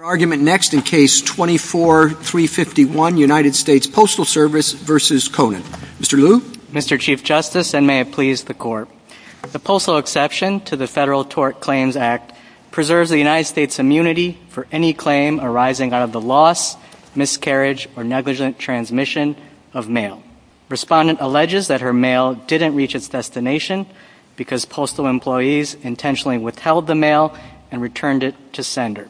Our argument next in case 24351, United States Postal Service v. Konan. Mr. Liu. Mr. Chief Justice, and may it please the Court. The postal exception to the Federal Tort Claims Act preserves the United States' immunity for any claim arising out of the loss, miscarriage, or negligent transmission of mail. Respondent alleges that her mail didn't reach its destination because postal employees intentionally withheld the mail and returned it to sender.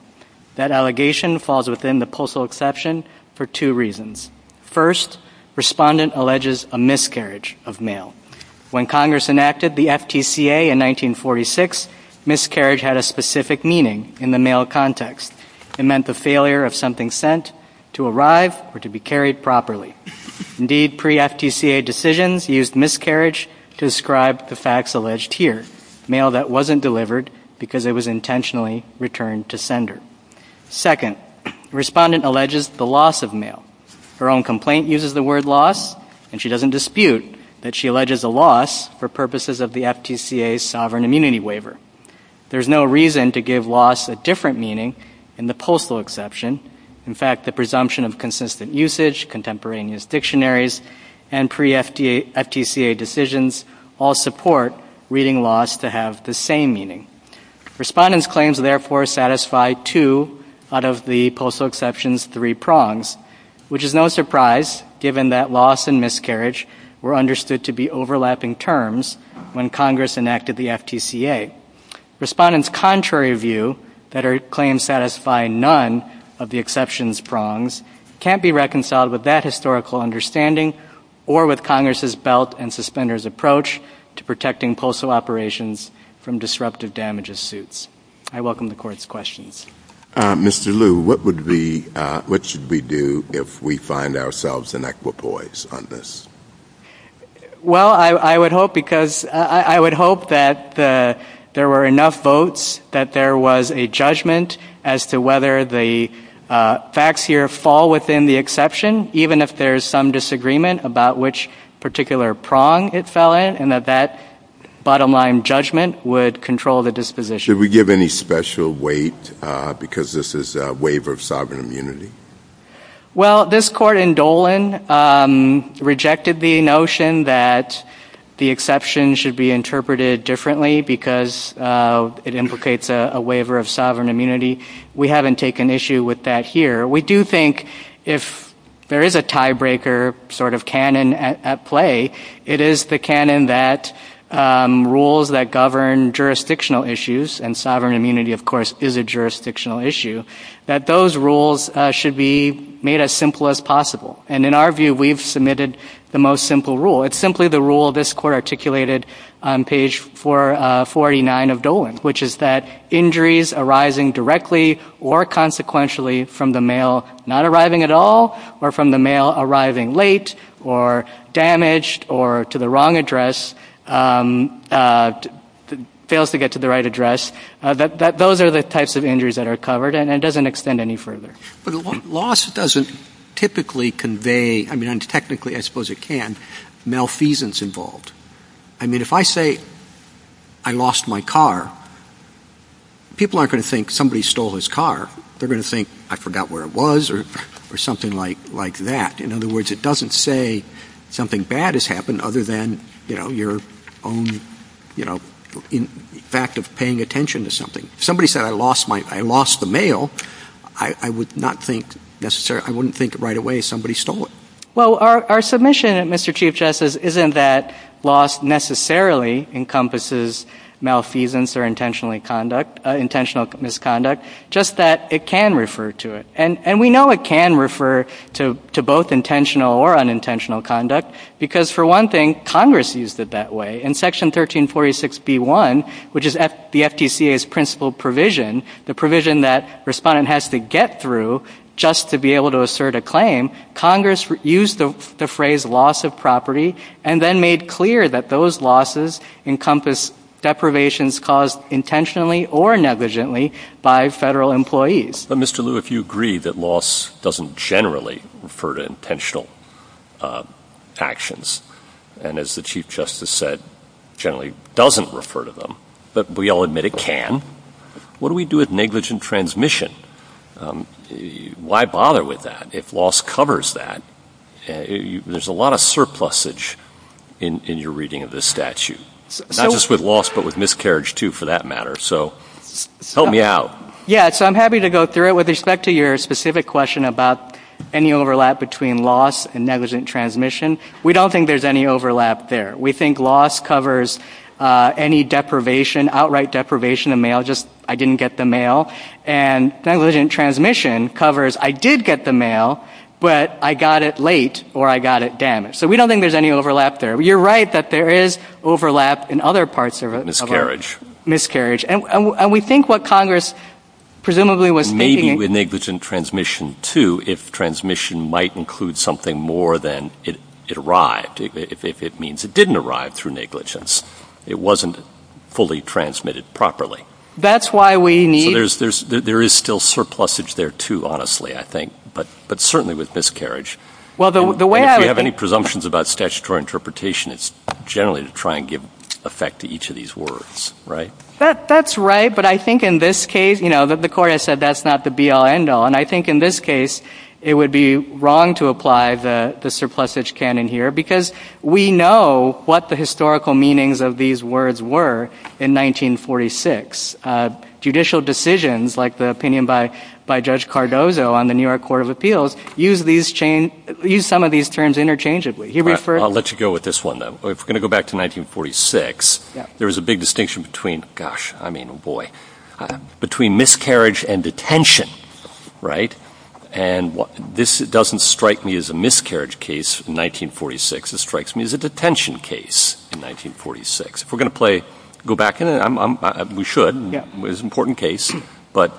That allegation falls within the postal exception for two reasons. First, Respondent alleges a miscarriage of mail. When Congress enacted the FTCA in 1946, miscarriage had a specific meaning in the mail context. It meant the failure of something sent to arrive or to be carried properly. Indeed, pre-FTCA decisions used miscarriage to describe the facts alleged here, mail that wasn't delivered because it was intentionally returned to sender. Second, Respondent alleges the loss of mail. Her own complaint uses the word loss, and she doesn't dispute that she alleges a loss for purposes of the FTCA's sovereign immunity waiver. There is no reason to give loss a different meaning in the postal exception. In fact, the presumption of consistent usage, contemporaneous dictionaries, and pre-FTCA decisions all support reading loss to have the same meaning. Respondent's claims, therefore, satisfy two out of the postal exception's three prongs, which is no surprise given that loss and miscarriage were understood to be overlapping terms when Congress enacted the FTCA. Respondent's contrary view that her claims satisfy none of the or with Congress's belt and suspender's approach to protecting postal operations from disruptive damages suits. I welcome the Court's questions. Mr. Liu, what should we do if we find ourselves in equipoise on this? Well, I would hope that there were enough votes that there was a judgment as to whether the facts here fall within the exception, even if there's some disagreement about which particular prong it fell in, and that that bottom line judgment would control the disposition. Did we give any special weight because this is a waiver of sovereign immunity? Well, this Court in Dolan rejected the notion that the exception should be interpreted differently because it implicates a waiver of sovereign immunity. We haven't taken issue with that here. We do think if there is a tiebreaker sort of canon at play, it is the canon that rules that govern jurisdictional issues, and sovereign immunity, of course, is a jurisdictional issue, that those rules should be made as simple as possible. And in our view, we've submitted the most simple rule. It's simply the rule this Court articulated on page 449 of Dolan, which is that injuries arising directly or consequentially from the mail not arriving at all or from the mail arriving late or damaged or to the wrong address fails to get to the right address, those are the types of injuries that are covered, and it doesn't extend any further. But loss doesn't typically convey, I mean, technically I suppose it can, malfeasance involved. I mean, if I say I lost my car, people aren't going to think somebody stole his car. They're going to think I forgot where it was or something like that. In other words, it doesn't say something bad has happened other than, you know, your own, you know, fact of paying attention to something. If somebody said I lost the mail, I would not think necessarily, I wouldn't think right away somebody stole it. Well, our submission, Mr. Chief Justice, isn't that loss necessarily encompasses malfeasance or intentional misconduct, just that it can refer to it. And we know it can refer to both intentional or unintentional conduct because, for one thing, Congress used it that way. In Section 1346B1, which is the FTCA's principal provision, the provision that a respondent has to get through just to be able to assert a claim, Congress used the phrase loss of property and then made clear that those losses encompass deprivations caused intentionally or negligently by federal employees. But Mr. Liu, if you agree that loss doesn't generally refer to intentional actions, and as the Chief Justice said, generally doesn't refer to them, but we all admit it can, what do we do with negligent transmission? Why bother with that if loss covers that? There's a lot of surplusage in your reading of this statute, not just with loss but with miscarriage, too, for that matter. So help me out. Yeah, so I'm happy to go through it. With respect to your specific question about any overlap between loss and negligent transmission, we don't think there's any overlap there. We think loss covers any deprivation, outright deprivation of mail, just I didn't get the mail. And negligent transmission covers I did get the mail, but I got it late or I got it damaged. So we don't think there's any overlap there. You're right that there is overlap in other parts of it. Miscarriage. Miscarriage. And we think what Congress presumably Maybe with negligent transmission, too, if transmission might include something more than it arrived, if it means it didn't arrive through negligence, it wasn't fully transmitted properly. That's why we need So there is still surplusage there, too, honestly, I think, but certainly with miscarriage. Well, the way And if you have any presumptions about statutory interpretation, it's generally to try and give effect to each of these words, right? That's right. But I think in this case, you know, the court has said that's not the be-all, end-all. And I think in this case, it would be wrong to apply the surplusage canon here, because we know what the historical meanings of these words were in 1946. Judicial decisions, like the opinion by Judge Cardozo on the New York Court of Appeals, use some of these terms interchangeably. He referred I'll let you go with this one, though. If we're going to go back to 1946, there was a big distinction between, gosh, I mean, boy, between miscarriage and detention, right? And this doesn't strike me as a miscarriage case in 1946. It strikes me as a detention case in 1946. If we're going to play, go back, we should. It was an important case. But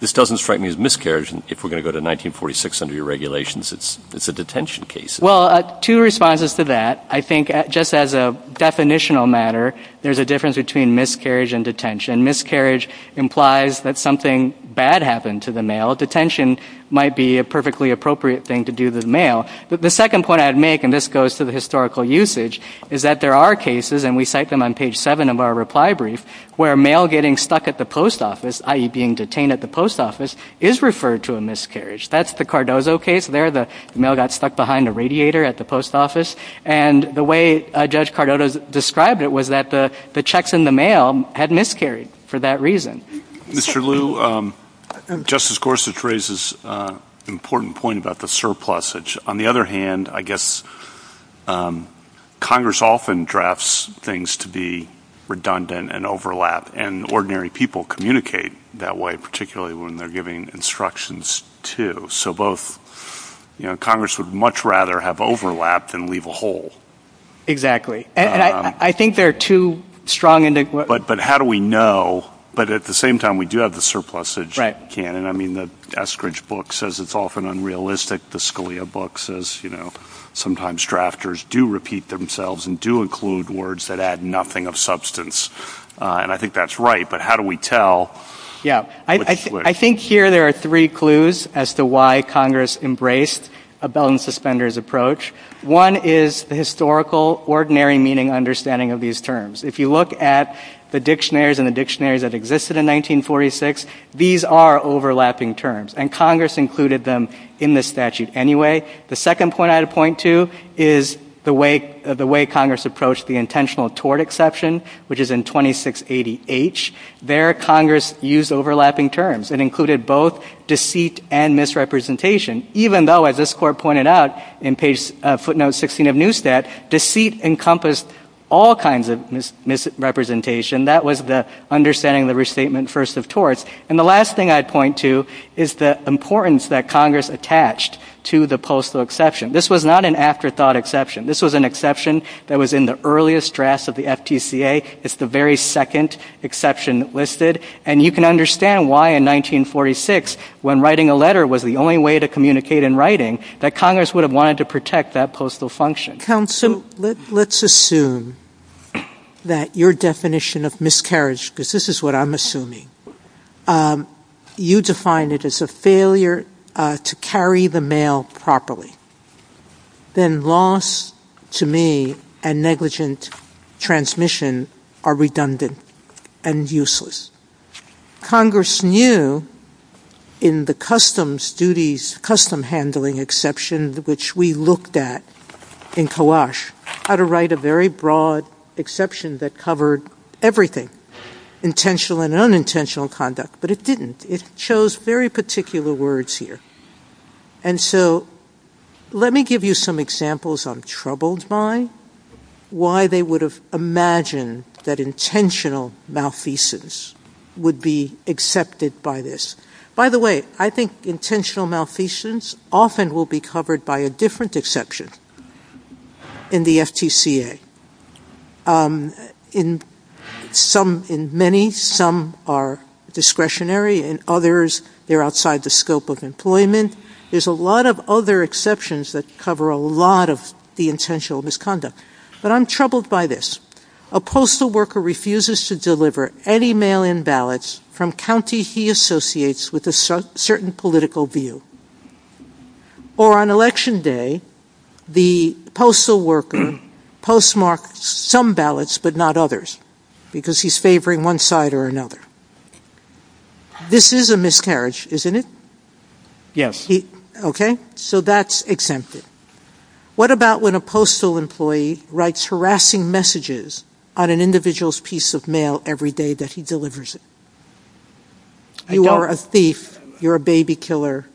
this doesn't strike me as miscarriage. And if we're going to go to 1946 under your regulations, it's a detention case. Well, two responses to that. I think just as a definitional matter, there's a difference between miscarriage and detention. Miscarriage implies that something bad happened to the male. Detention might be a perfectly appropriate thing to do to the male. But the second point I'd make, and this goes to the historical usage, is that there are cases, and we cite them on page seven of our reply brief, where a male getting stuck at the post office, i.e. being detained at the post office, is referred to a miscarriage. That's the Cardozo case there. The male got stuck behind a radiator at the post office. And the way Judge Cardozo described it was that the checks in the mail had miscarried for that reason. Mr. Liu, Justice Gorsuch raises an important point about the surplusage. On the other hand, I guess, Congress often drafts things to be redundant and overlap. And ordinary people communicate that way, particularly when they're giving instructions too. So Congress would much rather have overlap than leave a hole. Exactly. And I think they're too strong. But how do we know? But at the same time, we do have the surplusage canon. I mean, the Eskridge book says it's often unrealistic. The Scalia book says sometimes drafters do repeat themselves and do include words that add nothing of substance. And I think that's right. But how do we tell? Yeah. I think here there are three clues as to why Congress embraced a belt and suspenders approach. One is the historical ordinary meaning understanding of these terms. If you look at the dictionaries and the dictionaries that existed in 1946, these are overlapping terms. And Congress included them in the statute anyway. The second point I'd point to is the way Congress approached the intentional tort exception, which is in 2680H. There, Congress used overlapping terms and included both deceit and misrepresentation, even though, as this court pointed out in footnote 16 of Newstat, deceit encompassed all kinds of misrepresentation. That was the understanding of the restatement first of torts. And the last thing I'd point to is the importance that Congress attached to the postal exception. This was not an afterthought exception. This was an exception that was in the earliest drafts of the FTCA. It's the very second exception listed. And you can understand why in 1946, when writing a letter was the only way to communicate in writing, that Congress would have wanted to protect that postal function. Counsel, let's assume that your definition of miscarriage, because this is what I'm assuming, you define it as a failure to carry the mail properly. Then loss, to me, and negligent transmission are redundant and useless. Congress knew in the customs duties, custom handling exception, which we looked at in Kawash, how to write a very broad exception that covered everything, intentional and conduct. But it didn't. It shows very particular words here. And so let me give you some examples I'm troubled by, why they would have imagined that intentional malfeasance would be accepted by this. By the way, I think intentional malfeasance often will be covered by a different exception in the FTCA. In many, some are discretionary. In others, they're outside the scope of employment. There's a lot of other exceptions that cover a lot of the intentional misconduct. But I'm troubled by this. A postal worker refuses to deliver any mail-in ballots from county he associates with a certain political view. Or on election day, the postal worker postmarked some ballots but not others because he's favoring one side or another. This is a miscarriage, isn't it? Yes. Okay. So that's exempted. What about when a postal employee writes harassing messages on an individual's piece of mail every day that he I don't You are a thief. You're a baby killer.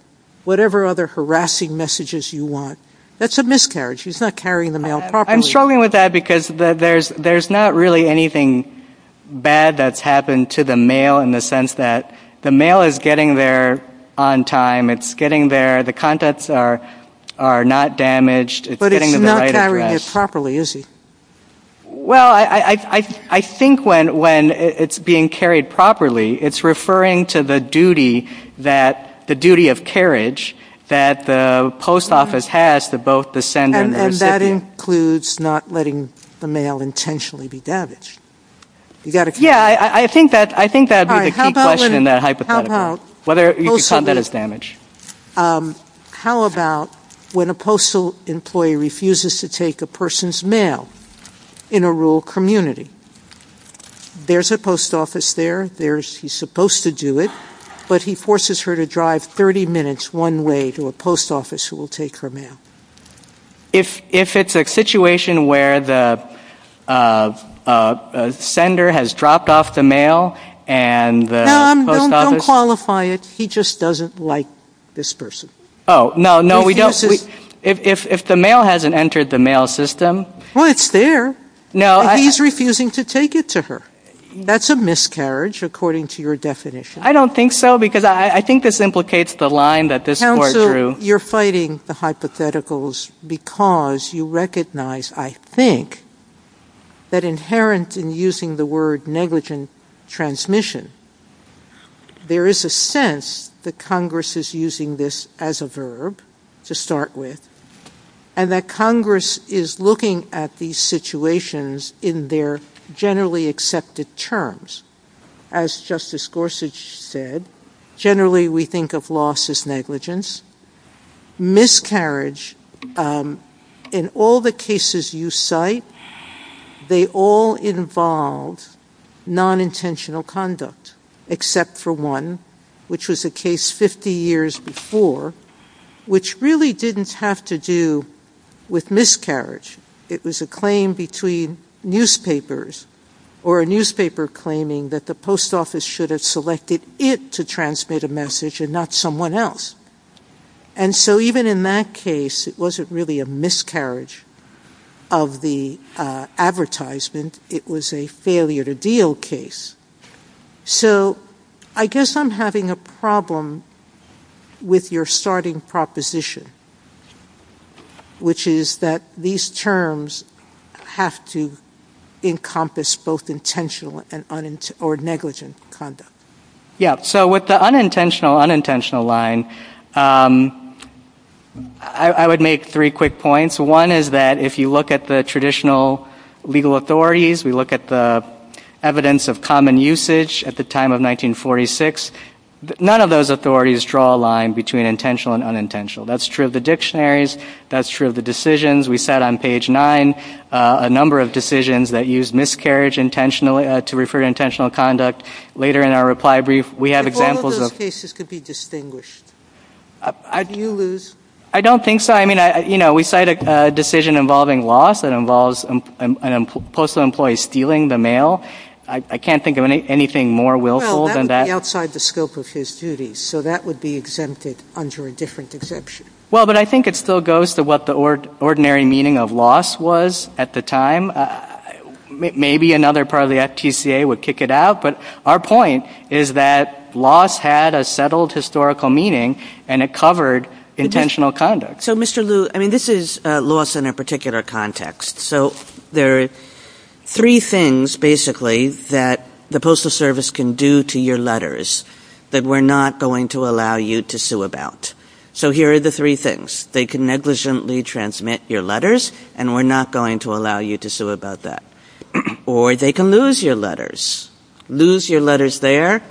Whatever other harassing messages you want. That's a miscarriage. He's not carrying the mail properly. I'm struggling with that because there's not really anything bad that's happened to the mail in the sense that the mail is getting there on time. It's getting there. The contents are not damaged. But it's not carrying it properly, is it? Well, I think when it's being carried properly, it's referring to the duty that the duty of carriage that the post office has to both the sender and the recipient. And that includes not letting the mail intentionally be damaged. Yeah, I think that would be the key question in that hypothetical. Whether you could count that as damage. How about when a postal employee refuses to take a person's mail in a rural community? There's a post office there. There's he's supposed to do it. But he forces her to drive 30 minutes one way to a post office who will take her mail. If if it's a situation where the sender has dropped off the mail and don't qualify it, he just doesn't like this person. Oh, no, no, we don't. If if the mail hasn't entered the mail system, well, it's there. No, he's refusing to take it to her. That's a miscarriage, according to your definition. I don't think so, because I think this implicates the line that this you're fighting the hypotheticals because you recognize, I think that inherent in using the negligent transmission. There is a sense that Congress is using this as a verb to start with, and that Congress is looking at these situations in their generally accepted terms. As Justice Gorsuch said, generally we think of loss as negligence. Miscarriage, um, in all the cases you cite, they all involved non-intentional conduct, except for one, which was a case 50 years before, which really didn't have to do with miscarriage. It was a claim between newspapers or a newspaper claiming that the post office should have selected it to and not someone else. And so even in that case, it wasn't really a miscarriage of the advertisement. It was a failure to deal case. So I guess I'm having a problem with your starting proposition, which is that these terms have to encompass both intentional and or negligent conduct. Yeah. So with the unintentional, unintentional line, um, I would make three quick points. One is that if you look at the traditional legal authorities, we look at the evidence of common usage at the time of 1946, none of those authorities draw a line between intentional and unintentional. That's true of the dictionaries. That's true of the decisions. We said on page nine, uh, a number of decisions that use miscarriage intentionally to refer to intentional conduct. Later in our reply brief, we have examples of cases could be distinguished. I do lose. I don't think so. I mean, I, you know, we cite a decision involving loss that involves postal employees stealing the mail. I can't think of anything more willful than that outside the scope of his duties. So that would be exempted under a different exemption. Well, but I think it still goes to what the ord ordinary meaning of loss was at the time. Uh, maybe another part of the FTCA would kick it out. But our point is that loss had a settled historical meaning and it covered intentional conduct. So Mr. Liu, I mean, this is a loss in a particular context. So there are three things basically that the postal service can do to your letters that we're not going to allow you to sue about. So here are the three things they can negligently transmit your letters and we're not going to allow you to sue about that or they can lose your letters, lose your letters. They're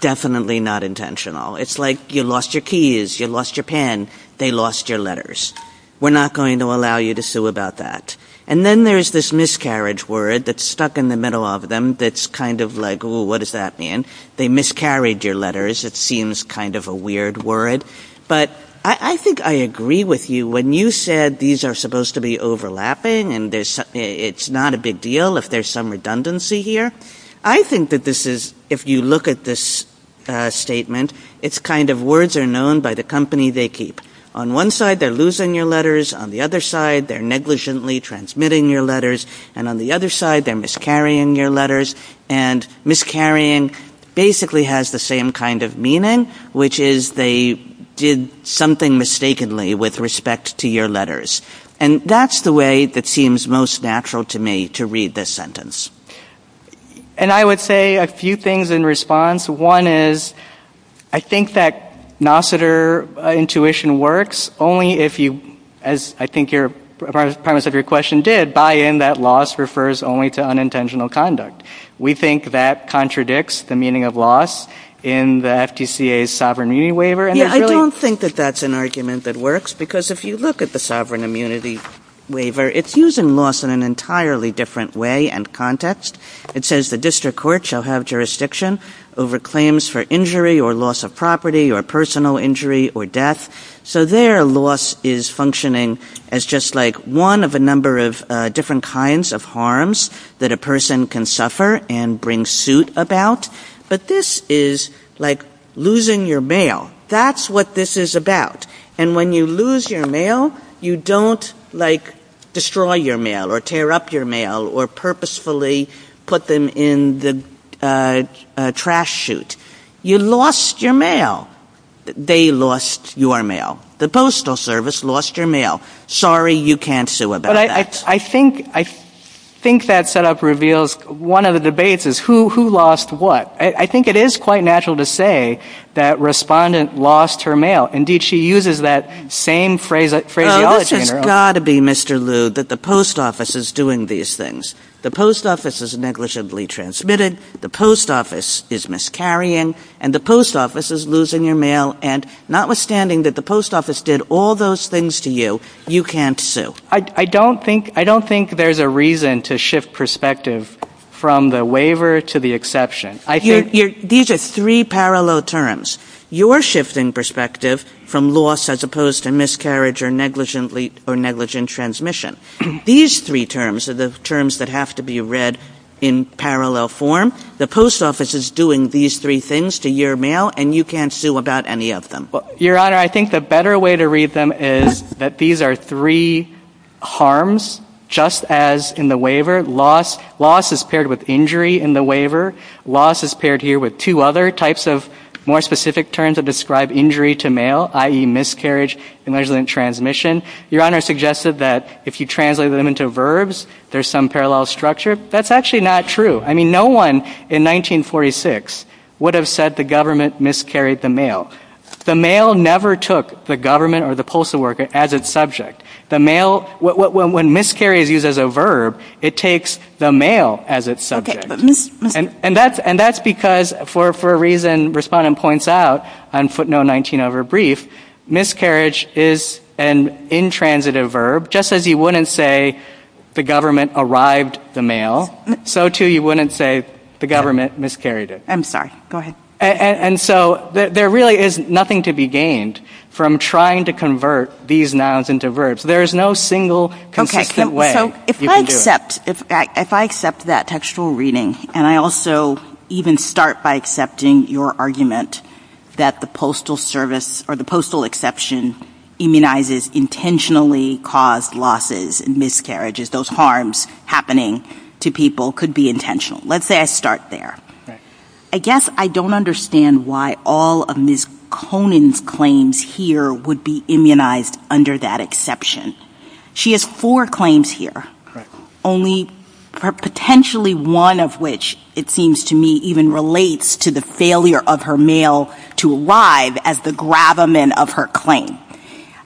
definitely not intentional. It's like you lost your keys. You lost your pen. They lost your letters. We're not going to allow you to sue about that. And then there's this miscarriage word that's stuck in the middle of them. That's kind of like, what does that mean? They miscarried your letters. It seems kind of a weird word. But I think I agree with you when you said these are supposed to be overlapping and it's not a big deal if there's some redundancy here. I think that this is, if you look at this statement, it's kind of words are known by the company they keep. On one side, they're losing your letters. On the other side, they're negligently transmitting your letters. And on the other side, they're miscarrying your letters. And miscarrying basically has the same kind of meaning, which is they did something mistakenly with respect to your letters. And that's the way that seems most natural to me to read this sentence. And I would say a few things in response. One is I think that Nosseter intuition works only if you, as I think your, part of your question did, buy in that loss refers only to unintentional conduct. We think that contradicts the meaning of loss in the FTCA's Sovereign Immunity Waiver. Yeah, I don't think that that's an argument that works. Because if you look at the Sovereign Immunity Waiver, it's using loss in an entirely different way and context. It says the district court shall have jurisdiction over claims for injury or loss of property or personal injury or death. So there loss is functioning as just like one of a number of different kinds of harms that a person can suffer and bring suit about. But this is like losing your mail. That's what this is about. And when you lose your mail, you don't like destroy your mail or tear up your mail or purposefully put them in the trash chute. You lost your mail. They lost your mail. The Postal Service lost your mail. Sorry you can't sue about that. I think that set up reveals one of the debates is who lost what. I think it is quite natural to say that respondent lost her mail. Indeed, she uses that same phrase, phrase the other day in her that the Post Office is doing these things. The Post Office is negligently transmitted. The Post Office is miscarrying. And the Post Office is losing your mail. And notwithstanding that the Post Office did all those things to you, you can't sue. I don't think I don't think there's a reason to shift perspective from the waiver to the exception. I think these are three parallel terms. You are shifting perspective from loss as opposed to miscarriage or negligently or negligent transmission. These three terms are the terms that have to be read in parallel form. The Post Office is doing these three things to your mail and you can't sue about any of them. Your Honor, I think the better way to read them is that these are three harms just as in the waiver. Loss is paired with injury in the waiver. Loss is paired here with two other types of more specific terms that describe injury to mail, i.e. miscarriage, negligent transmission. Your Honor, you suggested that if you translate them into verbs, there's some parallel structure. That's actually not true. I mean, no one in 1946 would have said the government miscarried the mail. The mail never took the government or the postal worker as its subject. The mail, when miscarriage is used as a verb, it takes the mail as its subject. And that's because for a reason Respondent points out on footnote 19 of her brief, miscarriage is an intransitive verb, just as you wouldn't say the government arrived the mail, so too you wouldn't say the government miscarried it. I'm sorry, go ahead. And so there really is nothing to be gained from trying to convert these nouns into verbs. There is no single consistent way. If I accept that textual reading and I also even start by accepting your argument that the postal service or the postal exception immunizes intentionally caused losses and miscarriages, those harms happening to people could be intentional. Let's say I start there. I guess I don't understand why all of Ms. Conan's claims here would be immunized under that exception. She has four claims here. Only potentially one of which, it seems to me, even relates to the failure of her mail to arrive as the gravamen of her claim.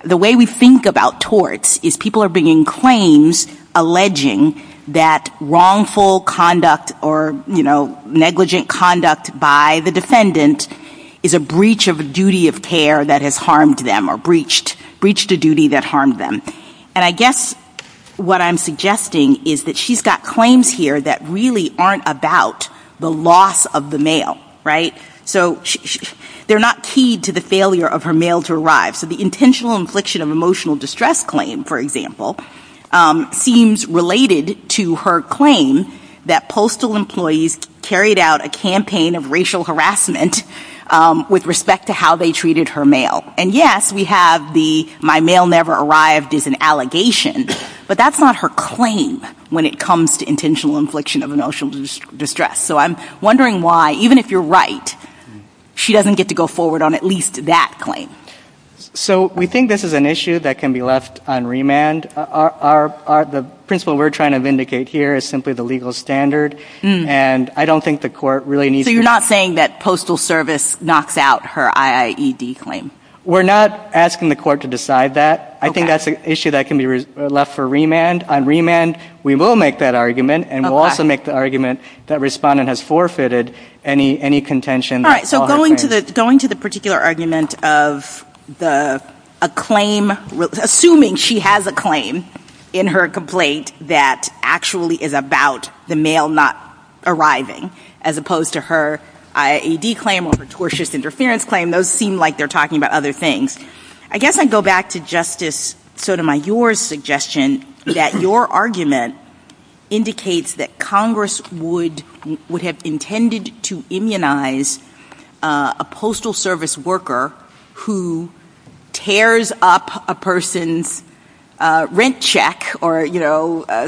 The way we think about torts is people are bringing claims alleging that wrongful conduct or, you know, negligent conduct by the defendant is a breach of a duty of care that has harmed them or breached a duty that harmed them. And I guess what I'm suggesting is that she's got claims here that really aren't about the loss of the mail, right? So they're not keyed to the failure of her mail to arrive. So the intentional infliction of emotional distress claim, for example, seems related to her claim that postal employees carried out a campaign of racial harassment with respect to how they treated her mail. And yes, we have the my mail never arrived is an allegation, but that's not her claim when it comes to intentional infliction of emotional distress. So I'm wondering why, even if you're right, she doesn't get to go forward on at least that claim. So we think this is an issue that can be left on remand. The principle we're trying to vindicate here is simply the legal standard, and I don't think the court really needs to So you're not saying that postal service knocks out her IIED claim? We're not asking the court to decide that. I think that's an issue that can be left for remand. On remand, we will make that argument, and we'll also make the argument that respondent has forfeited any contention. All right. So going to the particular argument of assuming she has a claim in her complaint that actually is about the mail not arriving, as opposed to her IIED claim or her tortious interference claim, those seem like they're talking about other things. I guess I'd go back to Justice Sotomayor's suggestion that your argument indicates that Congress would have intended to immunize a postal service worker who tears up a person's rent check or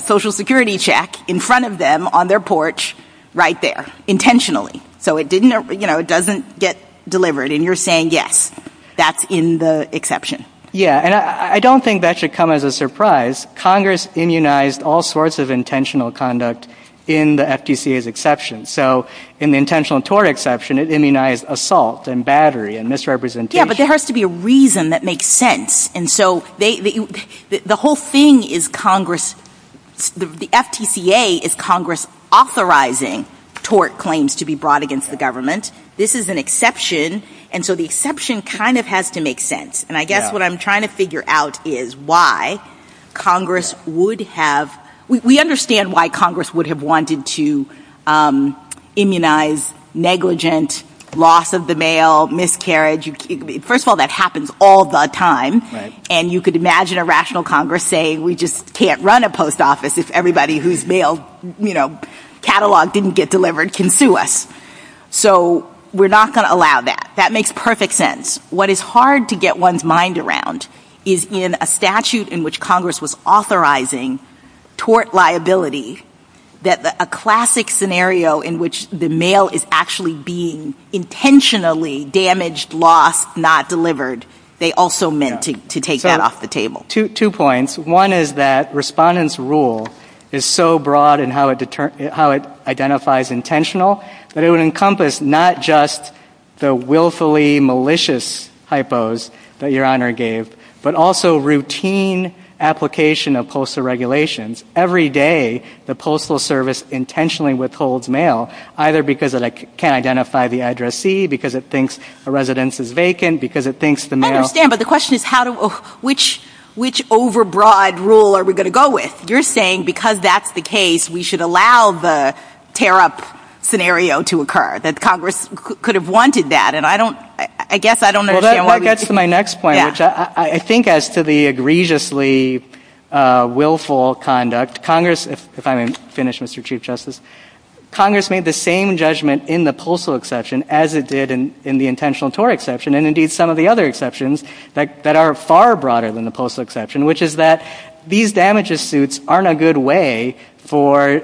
social security check in front of them on their porch right there, intentionally, so it doesn't get delivered. And you're saying, yes, that's in the exception. Yeah. And I don't think that should come as a surprise. Congress immunized all sorts of intentional conduct in the FTCA's exception. So in the intentional tort exception, it immunized assault and battery and misrepresentation. But there has to be a reason that makes sense. And so the whole thing is Congress, the FTCA is Congress authorizing tort claims to be brought against the government. This is an exception. And so the exception kind of has to make sense. And I guess what I'm trying to figure out is why Congress would have, we understand why Congress would have wanted to immunize negligent loss of the mail, miscarriage. First of all, that happens all the time. And you could imagine a rational Congress saying we just can't run a post office if everybody whose catalog didn't get delivered can sue us. So we're not going to allow that. That makes perfect sense. What is hard to get one's mind around is in a statute in which Congress was authorizing tort liability, that a classic scenario in which the mail is actually being intentionally damaged, lost, not delivered, they also meant to take that off the table. Two points. One is that Respondent's rule is so broad in how it identifies intentional, that it would encompass not just the willfully malicious hypos that Your Honor gave, but also routine application of postal regulations. Every day, the Postal Service intentionally withholds mail, either because it can't identify the addressee, because it thinks a residence is vacant, because it thinks the mail... I understand, but the question is which overbroad rule are we going to go with? You're saying because that's the case, we should allow the tear up scenario to occur, that Congress could have wanted that. And I guess I don't understand why... That gets to my next point, which I think as to the egregiously willful conduct, Congress, if I may finish, Mr. Chief Justice, Congress made the same judgment in the postal exception as it did in the intentional tort exception, and indeed some of the other exceptions that are far broader than the postal exception, which is that these damages suits aren't a good way for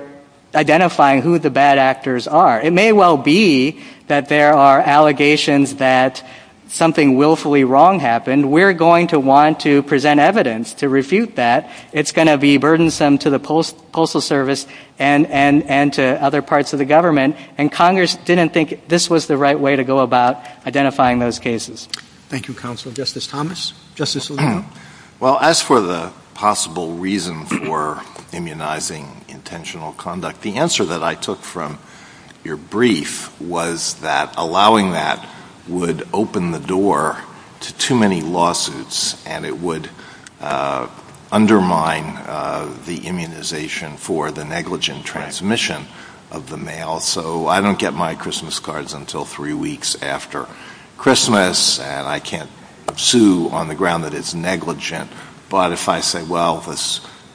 identifying who the bad actors are. It may well be that there are allegations that something willfully wrong happened. We're going to want to present evidence to refute that. It's going to be burdensome to the Postal Service and to other parts of the government, and Congress didn't think this was the right way to go about identifying those cases. Thank you, Counsel. Justice Thomas? Justice Alito? Well, as for the possible reason for immunizing intentional conduct, the answer that I took from your brief was that allowing that would open the door to too many lawsuits, and it would undermine the immunization for the negligent transmission of the mail. So I don't get my Christmas cards until three weeks after Christmas, and I can't sue on the ground that it's negligent. But if I say, well,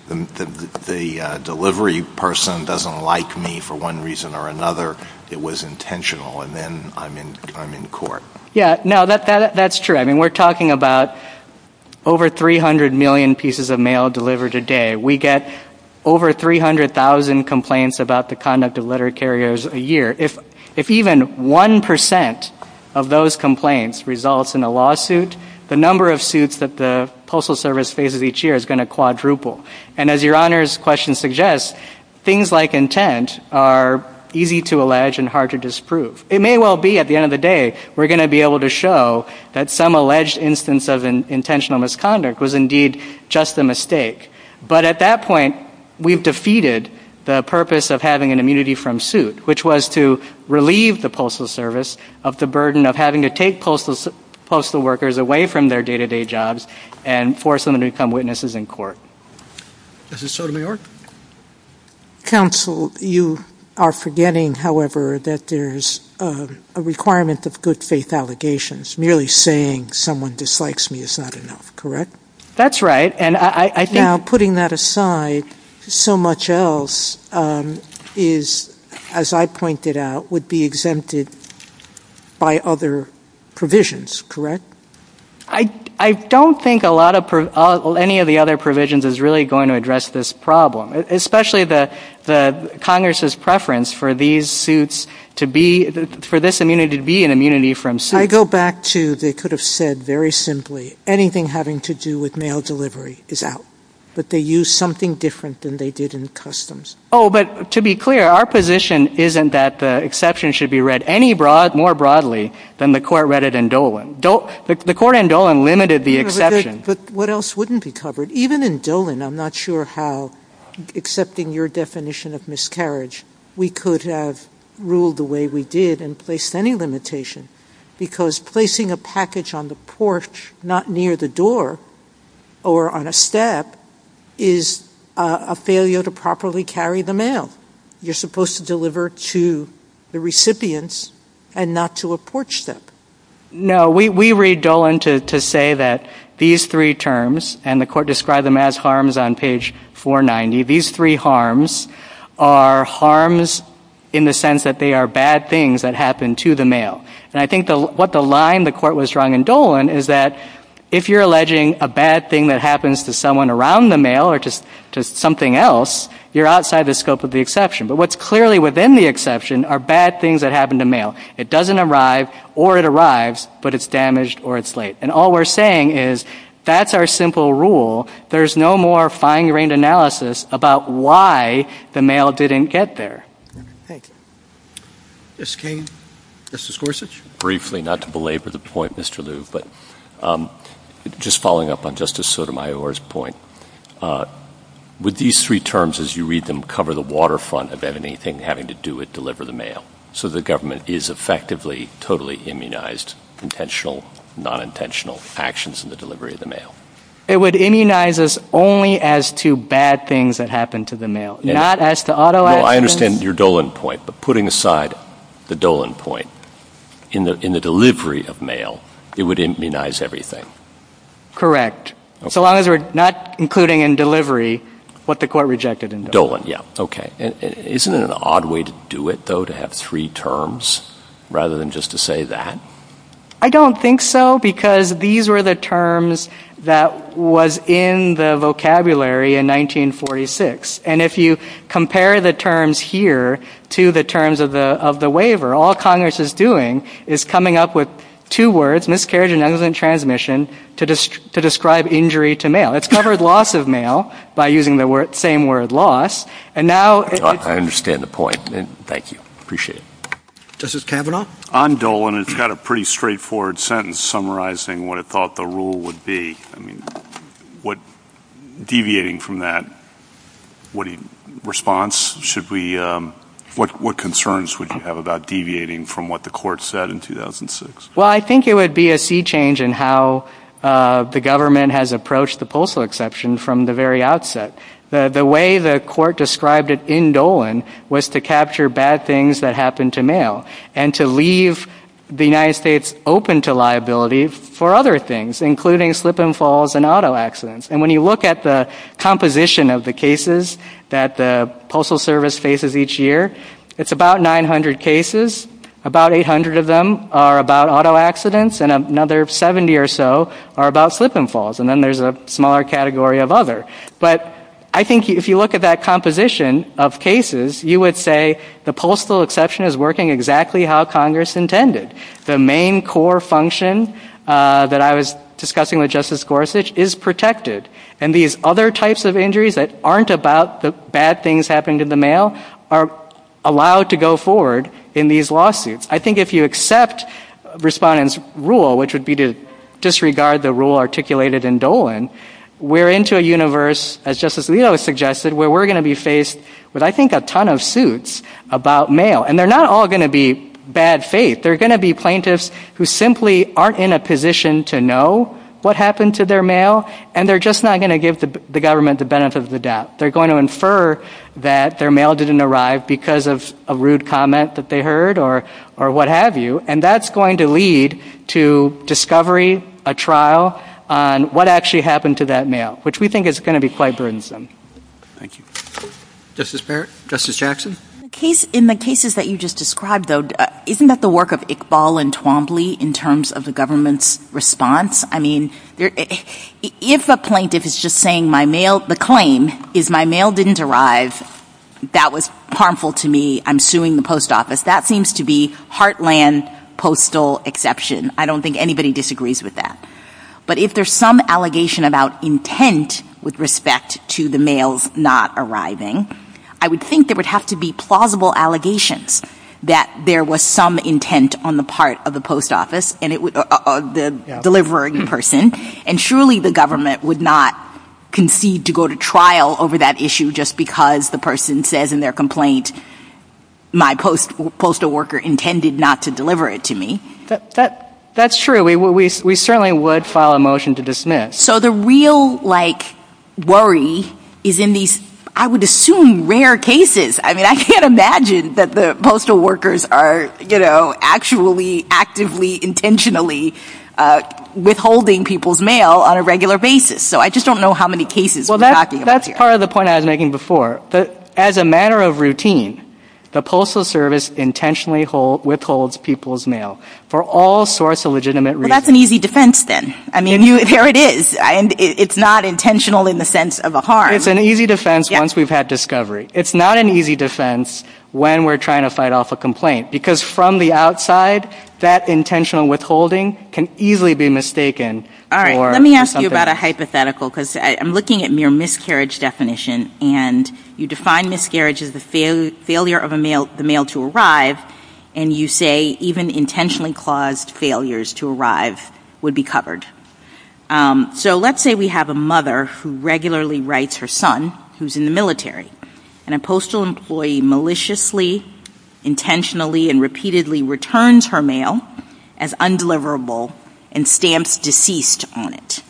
the delivery person doesn't like me for one reason or another, it was intentional, and then I'm in court. Yeah, no, that's true. I mean, we're talking about over 300 million pieces of mail delivered a day. We get over 300,000 complaints about the conduct of letter carriers a year. If even 1% of those complaints results in a lawsuit, the number of lawsuits that the Postal Service faces each year is going to quadruple. And as Your Honor's question suggests, things like intent are easy to allege and hard to disprove. It may well be at the end of the day we're going to be able to show that some alleged instance of intentional misconduct was indeed just a mistake. But at that point, we've defeated the purpose of having an immunity from suit, which was to relieve the Postal Service of the burden of having to take postal workers away from their day-to-day jobs and force them to become witnesses in court. Is it so to me, Your Honor? Counsel, you are forgetting, however, that there's a requirement of good faith allegations. Merely saying someone dislikes me is not enough, correct? That's right, and I think... Now, putting that aside, so much else is, as I pointed out, would be exempted by other provisions, correct? I don't think a lot of any of the other provisions is really going to address this problem, especially the Congress's preference for these suits to be, for this immunity to be an immunity from suit. I go back to, they could have said very simply, anything having to do with mail delivery is out, but they use something different than they did in customs. Oh, but to be clear, our position isn't that the exception should be read any more broadly than the Court read it in Dolan. The Court in Dolan limited the exception. But what else wouldn't be covered? Even in Dolan, I'm not sure how, accepting your definition of miscarriage, we could have ruled the way we did and placed any limitation, because placing a package on the porch, not near the door or on a step, is a failure to properly carry the mail. You're supposed to deliver to the recipients and not to a porch step. No, we read Dolan to say that these three terms, and the Court described them as harms on page 490, these three harms are harms in the sense that they are bad things that happen to the mail. And I think what the line the Court was drawing in Dolan is that if you're alleging a bad thing that happens to someone around the mail or to something else, you're outside the scope of the exception. But what's clearly within the exception are bad things that happen to mail. It doesn't arrive or it arrives, but it's damaged or it's late. And all we're saying is that's our simple rule. There's no more fine-grained analysis about why the mail didn't get there. Thank you. Justice Kagan? Justice Gorsuch? Briefly, not to belabor the point, Mr. Liu, but just following up on Justice Sotomayor's point, would these three terms, as you read them, cover the waterfront of anything having to do with deliver the mail, so the government is effectively totally immunized, intentional, non-intentional actions in the delivery of the mail? It would immunize us only as to bad things that happen to the mail, not as to auto actions. No, I understand your Dolan point. But putting aside the Dolan point, in the delivery of mail, it would immunize everything. Correct. So long as we're not including in delivery what the Court rejected in Dolan. Dolan, yeah. Okay. And isn't it an odd way to do it, though, to have three terms rather than just to say that? I don't think so, because these were the terms that was in the vocabulary in 1946. And if you compare the terms here to the terms of the waiver, all Congress is doing is coming up with two words, miscarriage and accident transmission, to describe injury to mail. It's covered loss of mail by using the same word, loss. And now... I understand the point. Thank you. Appreciate it. Justice Kavanaugh? On Dolan, it's got a pretty straightforward sentence summarizing what it thought the rule would be. I mean, what, deviating from that, what response should we, what concerns would you have about deviating from what the Court said in 2006? Well, I think it would be a sea change in how the government has approached the postal exception from the very outset. The way the Court described it in Dolan was to capture bad things that happened to mail, and to leave the United States open to liability for other things, including slip and falls and auto accidents. And when you look at the composition of the cases that the Postal Service faces each year, it's about 900 cases, about 800 of them are about auto accidents, and another 70 or so are about slip and falls. And then there's a smaller category of other. But I think if you look at that composition of cases, you would say the postal exception is working exactly how Congress intended. The main core function that I was discussing with Justice Gorsuch is protected. And these other types of injuries that aren't about the bad things happening to the mail are allowed to go forward in these lawsuits. I think if you accept respondents' rule, which would be to disregard the rule articulated in Dolan, we're into a universe, as Justice Alito suggested, where we're going to be faced with, I think, a ton of suits about mail. And they're not all going to be bad faith. They're going to be plaintiffs who simply aren't in a position to know what happened to their mail, and they're just not going to give the government the benefit of the doubt. They're going to infer that their mail didn't arrive because of a rude comment that they heard or what have you. And that's going to lead to discovery, a trial on what actually happened to that mail, which we think is going to be quite burdensome. Thank you. Justice Barrett? Justice Jackson? In the cases that you just described, though, isn't that the work of Iqbal and Twombly in terms of the government's response? I mean, if a plaintiff is just saying my mail — the claim is my mail didn't arrive, that was harmful to me, I'm suing the post office, that seems to be heartland postal exception. I don't think anybody disagrees with that. But if there's some allegation about intent with respect to the mails not arriving, I would think there would have to be plausible allegations that there was some intent on the part of the post office — the delivering person. And surely the government would not concede to go to trial over that issue just because the person says in their complaint, my postal worker intended not to deliver it to me. That's true. We certainly would file a motion to dismiss. So the real, like, worry is in these, I would assume, rare cases. I mean, I can't imagine that the postal workers are, you know, actually, actively, intentionally withholding people's mail on a regular basis. So I just don't know how many cases we're talking about here. That's part of the point I was making before. As a matter of routine, the Postal Service intentionally withholds people's mail for all sorts of legitimate reasons. That's an easy defense then. I mean, there it is. It's not intentional in the sense of a harm. It's an easy defense once we've had discovery. It's not an easy defense when we're trying to fight off a complaint. Because from the outside, that intentional withholding can easily be mistaken for something else. All right. Let me ask you about a hypothetical, because I'm looking at mere miscarriage definition. And you define miscarriage as the failure of a mail, the mail to arrive. And you say even intentionally claused failures to arrive would be covered. So let's say we have a mother who regularly writes her son who's in the military. And a postal employee maliciously, intentionally, and repeatedly returns her mail as undeliverable and stamps deceased on it.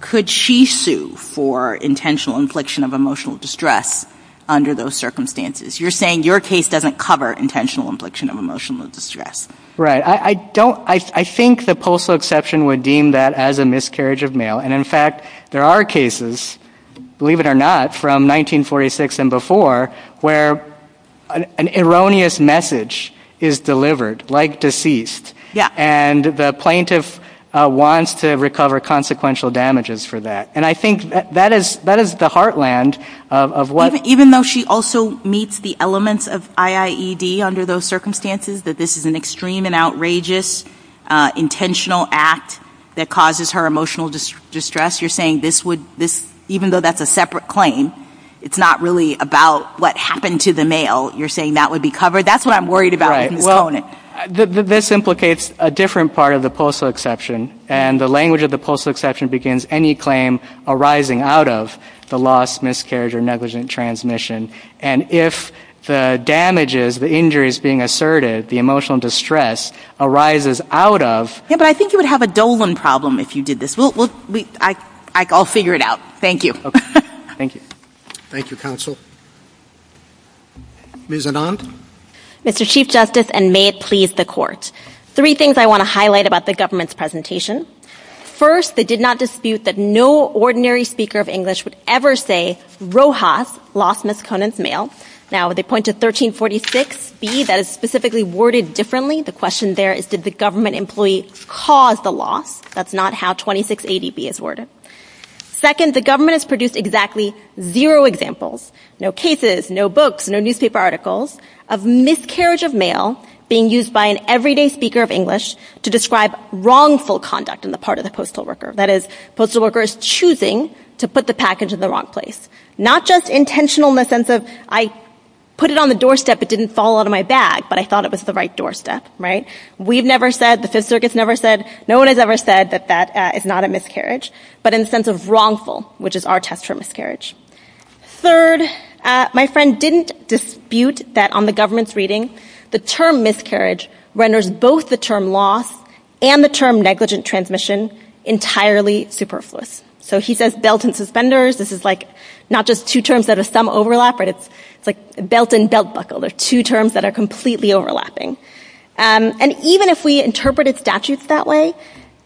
Could she sue for intentional infliction of emotional distress under those circumstances? You're saying your case doesn't cover intentional infliction of emotional distress. Right. I don't, I think the postal exception would deem that as a miscarriage of mail. And in fact, there are cases, believe it or not, from 1946 and before where an erroneous message is delivered, like deceased. And the plaintiff wants to recover consequential damages for that. And I think that is the heartland of what... Even though she also meets the elements of IIED under those circumstances, that this is an extreme and outrageous intentional act that causes her emotional distress, you're saying this would, even though that's a separate claim, it's not really about what happened to the mail, you're saying that would be covered? That's what I'm worried about with this component. This implicates a different part of the postal exception. And the language of the postal exception begins any claim arising out of the loss, miscarriage, or negligent transmission. And if the damages, the injuries being asserted, the emotional distress arises out of... Yeah, but I think you would have a Dolan problem if you did this. I'll figure it out. Thank you. Thank you. Thank you, Counsel. Ms. Anand? Mr. Chief Justice, and may it please the Court. Three things I want to highlight about the government's presentation. First, they did not dispute that no ordinary speaker of English would ever say Rojas lost Ms. Conant's mail. Now, they point to 1346B that is specifically worded differently. The question there is did the government employee cause the loss? That's not how 2680B is worded. Second, the government has produced exactly zero examples, no cases, no books, no newspaper articles of miscarriage of mail being used by an everyday speaker of English to describe wrongful conduct on the part of the postal worker. That is, postal workers choosing to put the package in the wrong place. Not just intentional in the sense of I put it on the doorstep, it didn't fall out of my bag, but I thought it was the right doorstep, right? We've never said, the Fifth Circuit's never said, no one has ever said that that is not a miscarriage, but in the sense of wrongful, which is our test for miscarriage. Third, my friend didn't dispute that on the government's reading, the term miscarriage renders both the term loss and the term negligent transmission entirely superfluous. So he says belt and suspenders, this is like not just two terms that have some overlap, but it's like belt and belt buckle. They're two terms that are completely overlapping. And even if we interpreted statutes that way,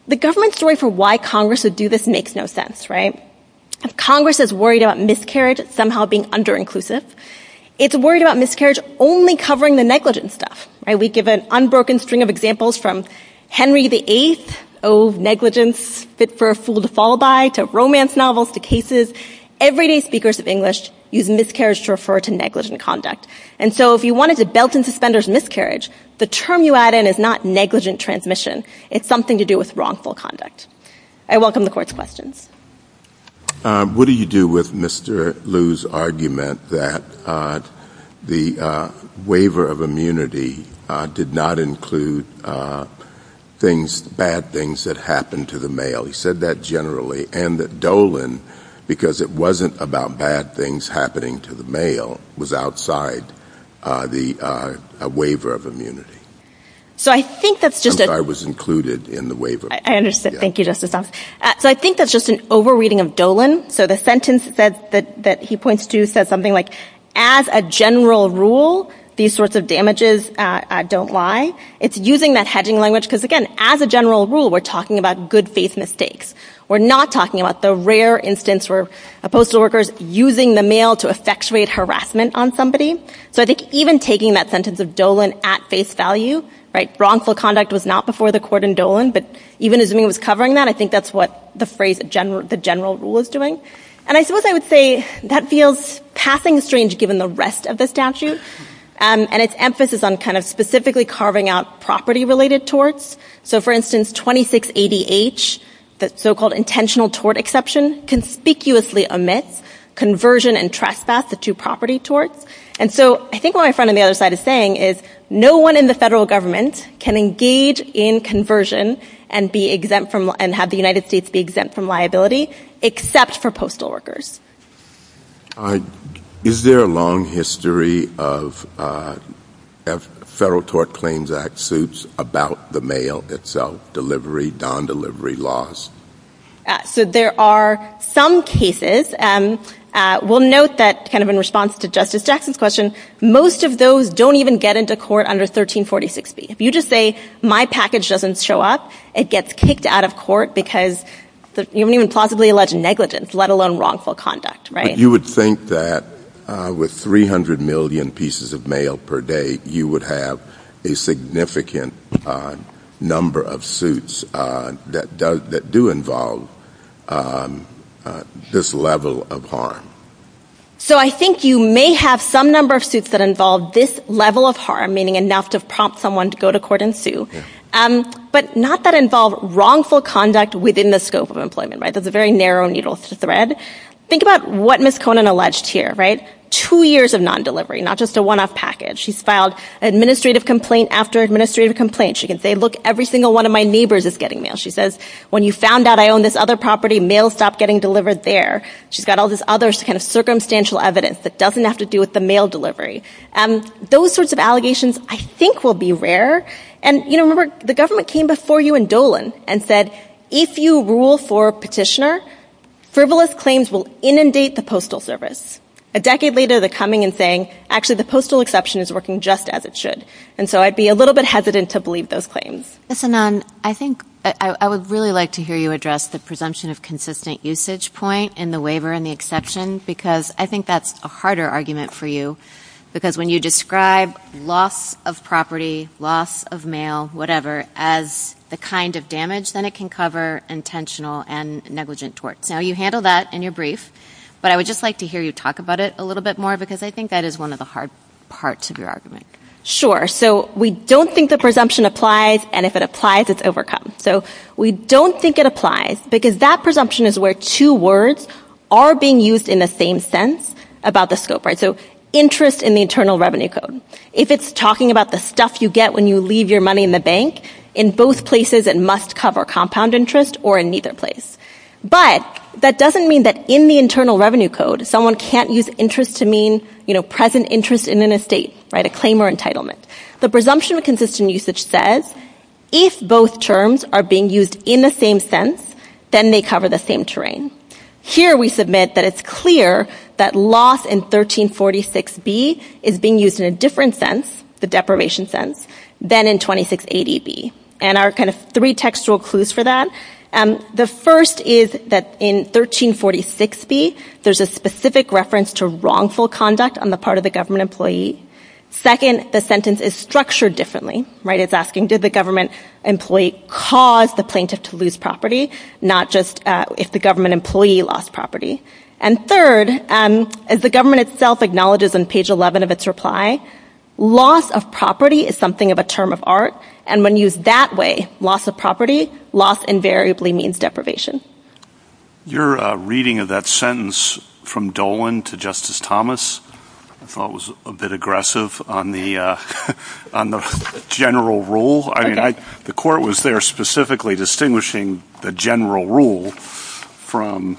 the government's story for why Congress would do this makes no sense, right? If Congress is worried about miscarriage somehow being under-inclusive, it's worried about miscarriage only covering the negligent stuff, right? We give an unbroken string of examples from Henry VIII, oh negligence, fit for a fool to fall by, to romance novels, to cases. Everyday speakers of English use miscarriage to refer to negligent conduct. And so if you wanted to belt and suspenders miscarriage, the term you add in is not negligent transmission. It's something to do with wrongful conduct. I welcome the Court's questions. What do you do with Mr. Lew's argument that the waiver of immunity did not include things, bad things that happened to the mail? He said that generally. And that Dolan, because it wasn't about bad things happening to the mail, was outside the waiver of immunity. So I think that's just a... I'm sorry, it was included in the waiver. I understand. Thank you, Justice Thomas. So I think that's just an over-reading of Dolan. So the sentence that he points to says something like, as a general rule, these sorts of damages don't lie. It's using that hedging language, because again, as a general rule, we're talking about good-faith mistakes. We're not talking about the rare instance where a postal worker is using the mail to effectuate harassment on somebody. So I think even taking that sentence of Dolan at face value, right, wrongful conduct was not before the court in Dolan, but even assuming it was covering that, I think that's what the phrase, the general rule is doing. And I suppose I would say that feels passing strange given the rest of the statute and its emphasis on kind of specifically carving out property-related torts. So for instance, 26ADH, the so-called intentional tort exception, conspicuously omits conversion and trespass to two-property torts. And so I think what my friend on the other side is saying is no one in the federal government can engage in conversion and have the United States be exempt from liability except for postal workers. Is there a long history of Federal Tort Claims Act suits about the mail itself, delivery, non-delivery laws? So there are some cases. We'll note that kind of in response to Justice Jackson's question, most of those don't even get into court under 1346B. If you just say, my package doesn't show up, it gets kicked out of court because you haven't even plausibly alleged negligence, let alone wrongful conduct, right? You would think that with 300 million pieces of mail per day, you would have a significant number of suits that do involve this level of harm. So I think you may have some number of suits that involve this level of harm, meaning enough to prompt someone to go to court and sue, but not that involve wrongful conduct within the scope of employment, right? That's a very narrow needle thread. Think about what Ms. Conant alleged here, right? Two years of non-delivery, not just a one-off package. She's filed administrative complaint after administrative complaint. She can say, look, every single one of my neighbors is getting mail. She says, when you found out I own this other property, mail stopped getting delivered there. She's got all this other kind of circumstantial evidence that doesn't have to do with the mail delivery. Those sorts of allegations, I think, will be rare. And remember, the government came before you in Dolan and said, if you rule for petitioner, frivolous claims will inundate the Postal Service. A decade later, they're coming and saying, actually, the postal exception is working just as it should. And so I'd be a little bit hesitant to believe those claims. Ms. Anand, I think I would really like to hear you address the presumption of consistent usage point in the waiver and the exception, because I think that's a harder argument for you, because when you describe loss of property, loss of mail, whatever, as the kind of damage, then it can cover intentional and negligent torts. Now, you handle that in your brief, but I would just like to hear you talk about it a little bit more, because I think that is one of the hard parts of your argument. Sure. So we don't think the presumption applies, and if it applies, it's overcome. So we don't think it applies, because that presumption is where two words are being used in the same sense about the scope, right? So interest in the Internal Revenue Code. If it's talking about the stuff you get when you leave your money in the bank, in both places it must cover compound interest or in neither place. But that doesn't mean that in the Internal Revenue Code, someone can't use interest to mean, you know, present interest in an estate, right, a claim or entitlement. The presumption of consistent usage says, if both terms are being used in the same sense, then they cover the same terrain. Here we submit that it's clear that loss in 1346B is being used in a different sense, the deprivation sense, than in 2680B. And our kind of three textual clues for that, the first is that in 1346B, there's a specific reference to wrongful conduct on the part of the government employee. Second, the sentence is structured differently, right? It's asking, did the government employee cause the plaintiff to lose property, not just if the government employee lost property? And third, as the government itself acknowledges on page 11 of its reply, loss of property is something of a term of art, and when used that way, loss of property, loss invariably means deprivation. Your reading of that sentence from Dolan to Justice Thomas, I thought was a bit aggressive on the general rule. I mean, the court was there specifically distinguishing the general rule from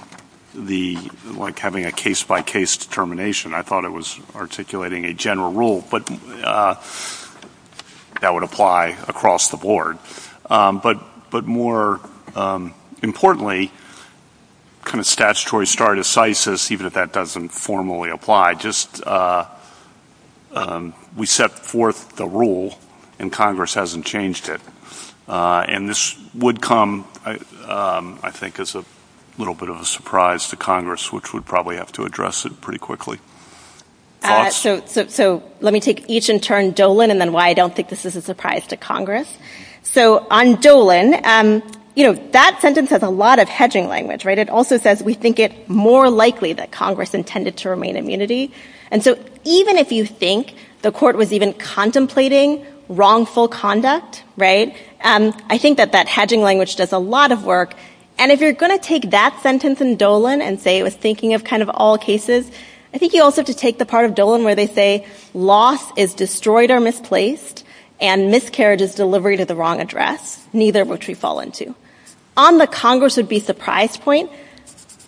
the, like having a case-by-case determination. I thought it was articulating a general rule, but that would apply across the board. But more importantly, kind of statutory stardecisis, even if that doesn't formally apply, just we set forth the rule, and Congress hasn't changed it. And this would come, I think, as a little bit of a surprise to Congress, which would probably have to address it pretty quickly. So let me take each in turn, Dolan, and then why I don't think this is a surprise to Congress. So on Dolan, you know, that sentence has a lot of hedging language, right? It also says we think it more likely that Congress intended to remain immunity. And so even if you think the court was even contemplating wrongful conduct, right, I think that that hedging language does a lot of work. And if you're going to take that sentence in Dolan and say it was thinking of kind of all cases, I think you also have to take the part of Dolan where they say loss is destroyed or misplaced and miscarriage is delivery to the wrong address, neither of which we fall into. On the Congress would be surprised point,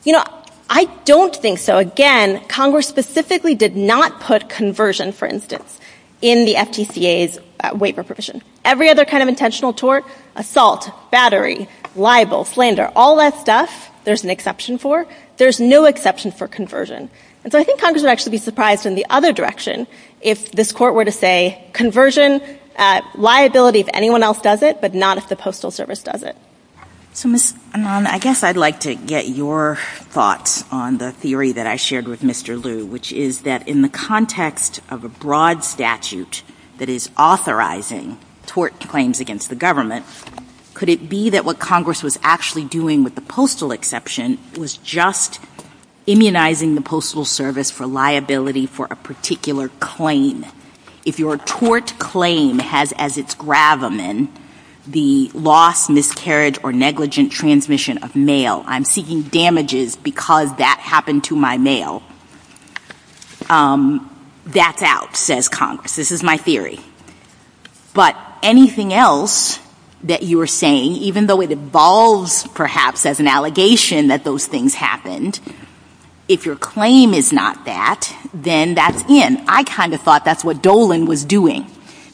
you know, I don't think so. Again, Congress specifically did not put conversion, for instance, in the FTCA's waiver provision. Every other kind of intentional tort, assault, battery, libel, slander, all that stuff, there's an exception for. There's no exception for conversion. And so I think Congress would actually be surprised in the other direction if this Court were to say, conversion, liability if anyone else does it, but not if the Postal Service does it. MS. PEPLAUSEN. So, Ms. Anand, I guess I'd like to get your thoughts on the theory that I shared with Mr. Liu, which is that in the context of a broad statute that is authorizing tort claims against the government, could it be that what Congress was actually doing with the postal exception was just immunizing the Postal Service for liability for a particular claim? If your tort claim has as its gravamen the loss, miscarriage, or negligent transmission of mail, I'm seeking damages because that happened to my mail, that's out, says Congress. This is my theory. But anything else that you are saying, even though it evolves perhaps as an allegation that those things happened, if your claim is not that, then that's in. I kind of thought that's what Dolan was doing.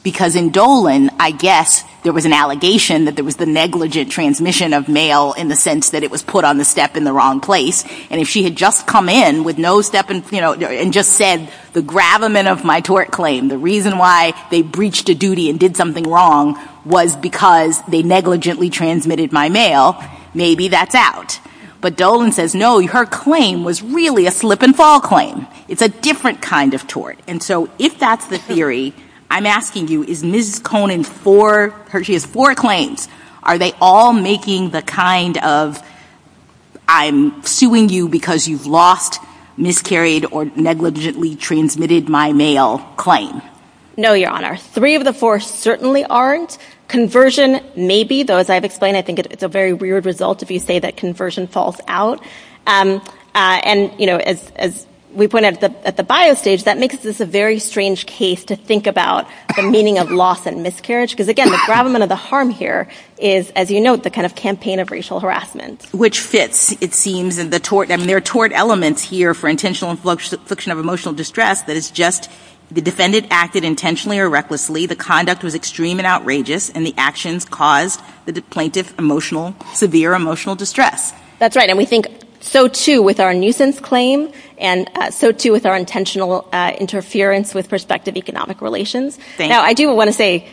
Because in Dolan, I guess there was an allegation that there was the negligent transmission of mail in the sense that it was put on the step in the wrong place. And if she had just come in with no step in, you know, and just said, the gravamen of my tort claim, the reason why they breached a duty and did something wrong was because they negligently transmitted my mail, maybe that's out. But Dolan says, no, her claim was really a slip and fall claim. It's a different kind of tort. And so if that's the theory, I'm asking you, is Mrs. Conan for her, she has four claims. Are they all making the kind of I'm suing you because you've lost, miscarried, or negligently transmitted my mail claim? No, Your Honor. Three of the four certainly aren't. Conversion, maybe, though as I've explained, I think it's a very weird result if you say that conversion falls out. And, you know, as we pointed out at the bio stage, that makes this a very strange case to think about the meaning of loss and miscarriage. Because again, the gravamen of the harm here is, as you note, the kind of campaign of racial harassment. Which fits, it seems, in the tort. I mean, there are tort elements here for intentional infliction of emotional distress that is just the defendant acted intentionally or recklessly, the conduct was extreme and outrageous, and the actions caused the plaintiff emotional, severe emotional distress. That's right. And we think so, too, with our nuisance claim. And so, too, with our intentional interference with prospective economic relations. Now, I do want to say,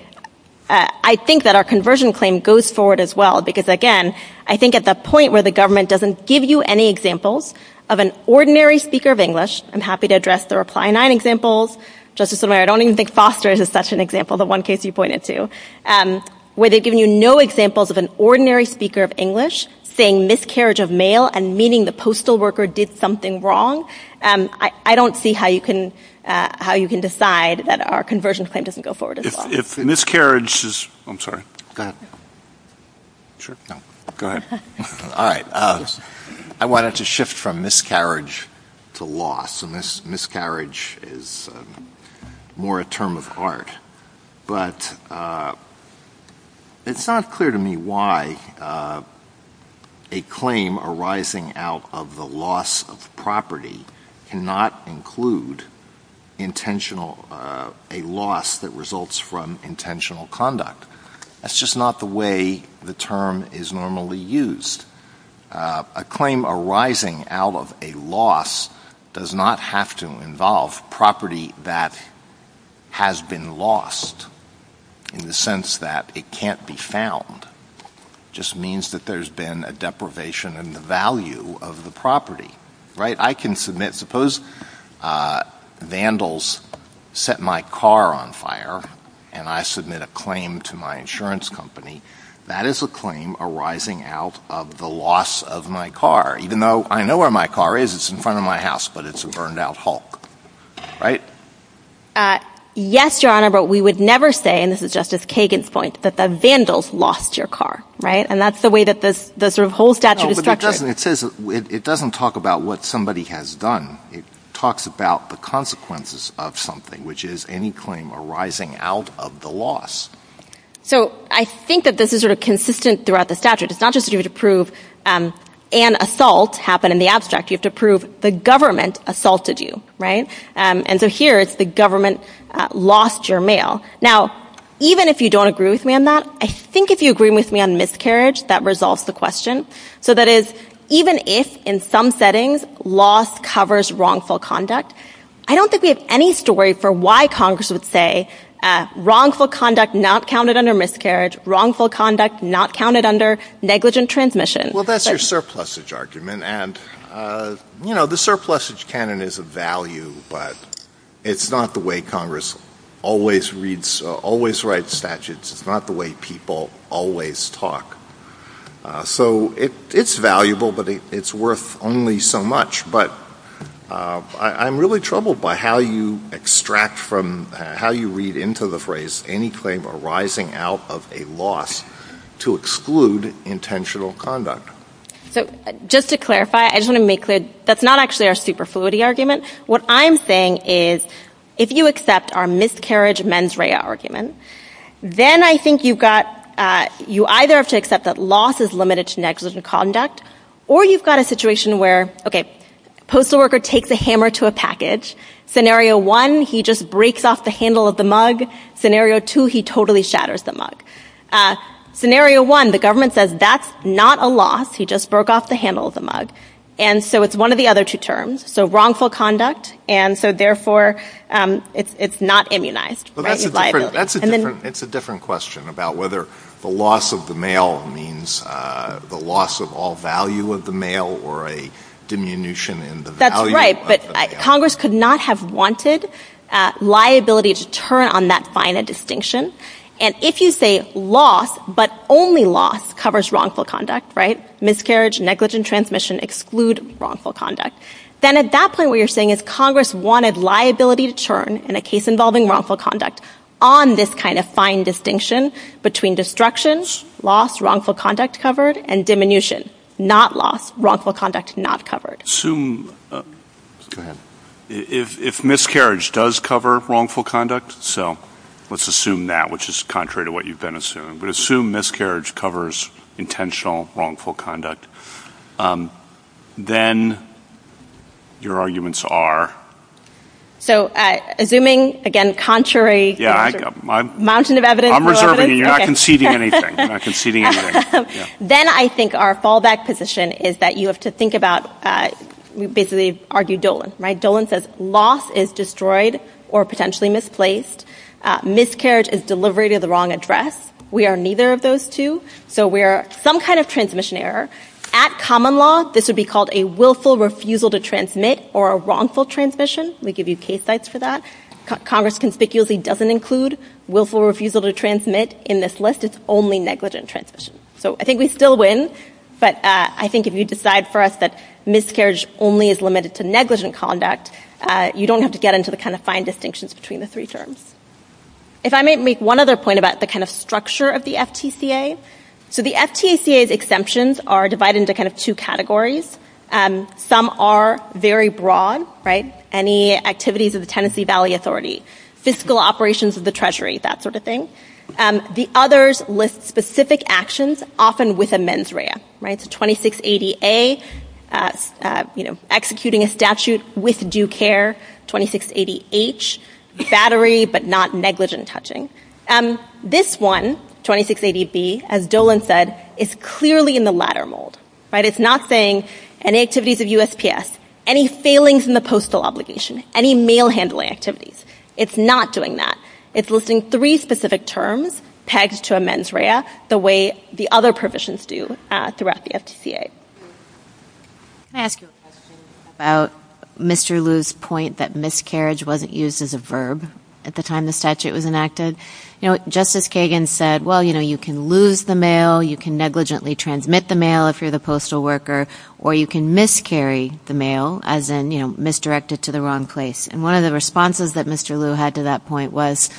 I think that our conversion claim goes forward as well. Because again, I think at the point where the government doesn't give you any examples of an ordinary speaker of English, I'm happy to address the reply nine examples, Justice O'Mara, I don't even think Foster is such an example, the one case you pointed to. Where they've given you no examples of an ordinary speaker of English saying miscarriage of mail and meaning the postal worker did something wrong, I don't see how you can decide that our conversion claim doesn't go forward as well. If miscarriage is, I'm sorry. Go ahead. Sure. No. Go ahead. All right. I wanted to shift from miscarriage to loss. Miscarriage is more a term of art. But it's not clear to me why a claim arising out of the loss of property cannot include intentional, a loss that results from intentional conduct. That's just not the way the term is normally used. A claim arising out of a loss does not have to involve property that has been lost in the sense that it can't be found. It just means that there's been a deprivation in the value of the property. I can submit, suppose vandals set my car on fire and I submit a claim to my insurance company, that is a claim arising out of the loss of my car. Even though I know where my car is, it's in front of my house, but it's a burned out Hulk. Yes, Your Honor, but we would never say, and this is Justice Kagan's point, that the vandals lost your car, right? And that's the way that this whole statute is structured. It says it doesn't talk about what somebody has done. It talks about the consequences of something, which is any claim arising out of the loss. So I think that this is sort of consistent throughout the statute. It's not just to prove an assault happened in the abstract. You have to prove the government assaulted you, right? And so here it's the government lost your mail. Now, even if you don't agree with me on that, I think if you agree with me on miscarriage, that resolves the question. So that is even if in some settings loss covers wrongful conduct, I don't think we have any story for why Congress would say wrongful conduct not counted under miscarriage, wrongful conduct not counted under negligent transmission. Well, that's your surplusage argument. And, you know, the surplusage canon is a value, but it's not the way Congress always reads, always writes statutes. It's not the way people always talk. So it's valuable, but it's worth only so much. But I'm really troubled by how you extract from how you read into the phrase any claim arising out of a loss to exclude intentional conduct. So just to clarify, I just want to make clear, that's not actually our superfluity argument. What I'm saying is if you accept our miscarriage mens rea argument, then I think you've got you either have to accept that loss is limited to negligent conduct, or you've got a situation where, okay, postal worker takes a hammer to a package. Scenario one, he just breaks off the handle of the mug. Scenario two, he totally shatters the mug. Scenario one, the government says that's not a loss. He just broke off the handle of the mug. And so it's one of the other two terms. So wrongful conduct, and so therefore, it's not immunized, right, with liability. It's a different question about whether the loss of the mail means the loss of all value of the mail or a diminution in the value of the mail. That's right, but Congress could not have wanted liability to turn on that finite distinction. And if you say loss, but only loss covers wrongful conduct, right, miscarriage, negligent transmission exclude wrongful conduct, then at that point what you're saying is Congress wanted liability to turn in a case involving wrongful conduct on this kind of fine distinction between destruction, loss, wrongful conduct covered, and diminution, not loss, wrongful conduct not covered. Assume, go ahead, if miscarriage does cover wrongful conduct, so let's assume that, which is contrary to what you've been assuming, but assume miscarriage covers intentional wrongful conduct, then your arguments are? So assuming, again, contrary, mountain of evidence, I'm reserving it, you're not conceding anything, you're not conceding anything. Then I think our fallback position is that you have to think about, we basically argue Dolan, right, Dolan says loss is destroyed or potentially misplaced, miscarriage is delivery to the wrong address, we are neither of those two, so we are some kind of transmission error. At common law, this would be called a willful refusal to transmit or a wrongful transmission, we give you case sites for that. Congress conspicuously doesn't include willful refusal to transmit in this list, it's only negligent transmission. So I think we still win, but I think if you decide for us that miscarriage only is limited to negligent conduct, you don't have to get into the kind of fine distinctions between the three terms. If I may make one other point about the kind of structure of the FTCA, so the FTCA's exemptions are divided into kind of two categories. Some are very broad, right, any activities of the Tennessee Valley Authority, fiscal operations of the Treasury, that sort of thing. The others list specific actions, often with a mens rea, right, so 2680A, you know, executing a statute with due care, 2680H, battery but not negligent touching. This one, 2680B, as Dolan said, is clearly in the latter mold, right, it's not saying any activities of USPS, any failings in the postal obligation, any mail handling activities, it's not doing that. It's listing three specific terms pegged to a mens rea the way the other provisions do throughout the FTCA. Right. Can I ask you a question about Mr. Liu's point that miscarriage wasn't used as a verb at the time the statute was enacted? You know, Justice Kagan said, well, you know, you can lose the mail, you can negligently transmit the mail if you're the postal worker, or you can miscarry the mail, as in, you know, misdirect it to the wrong place. And one of the responses that Mr. Liu had to that point was,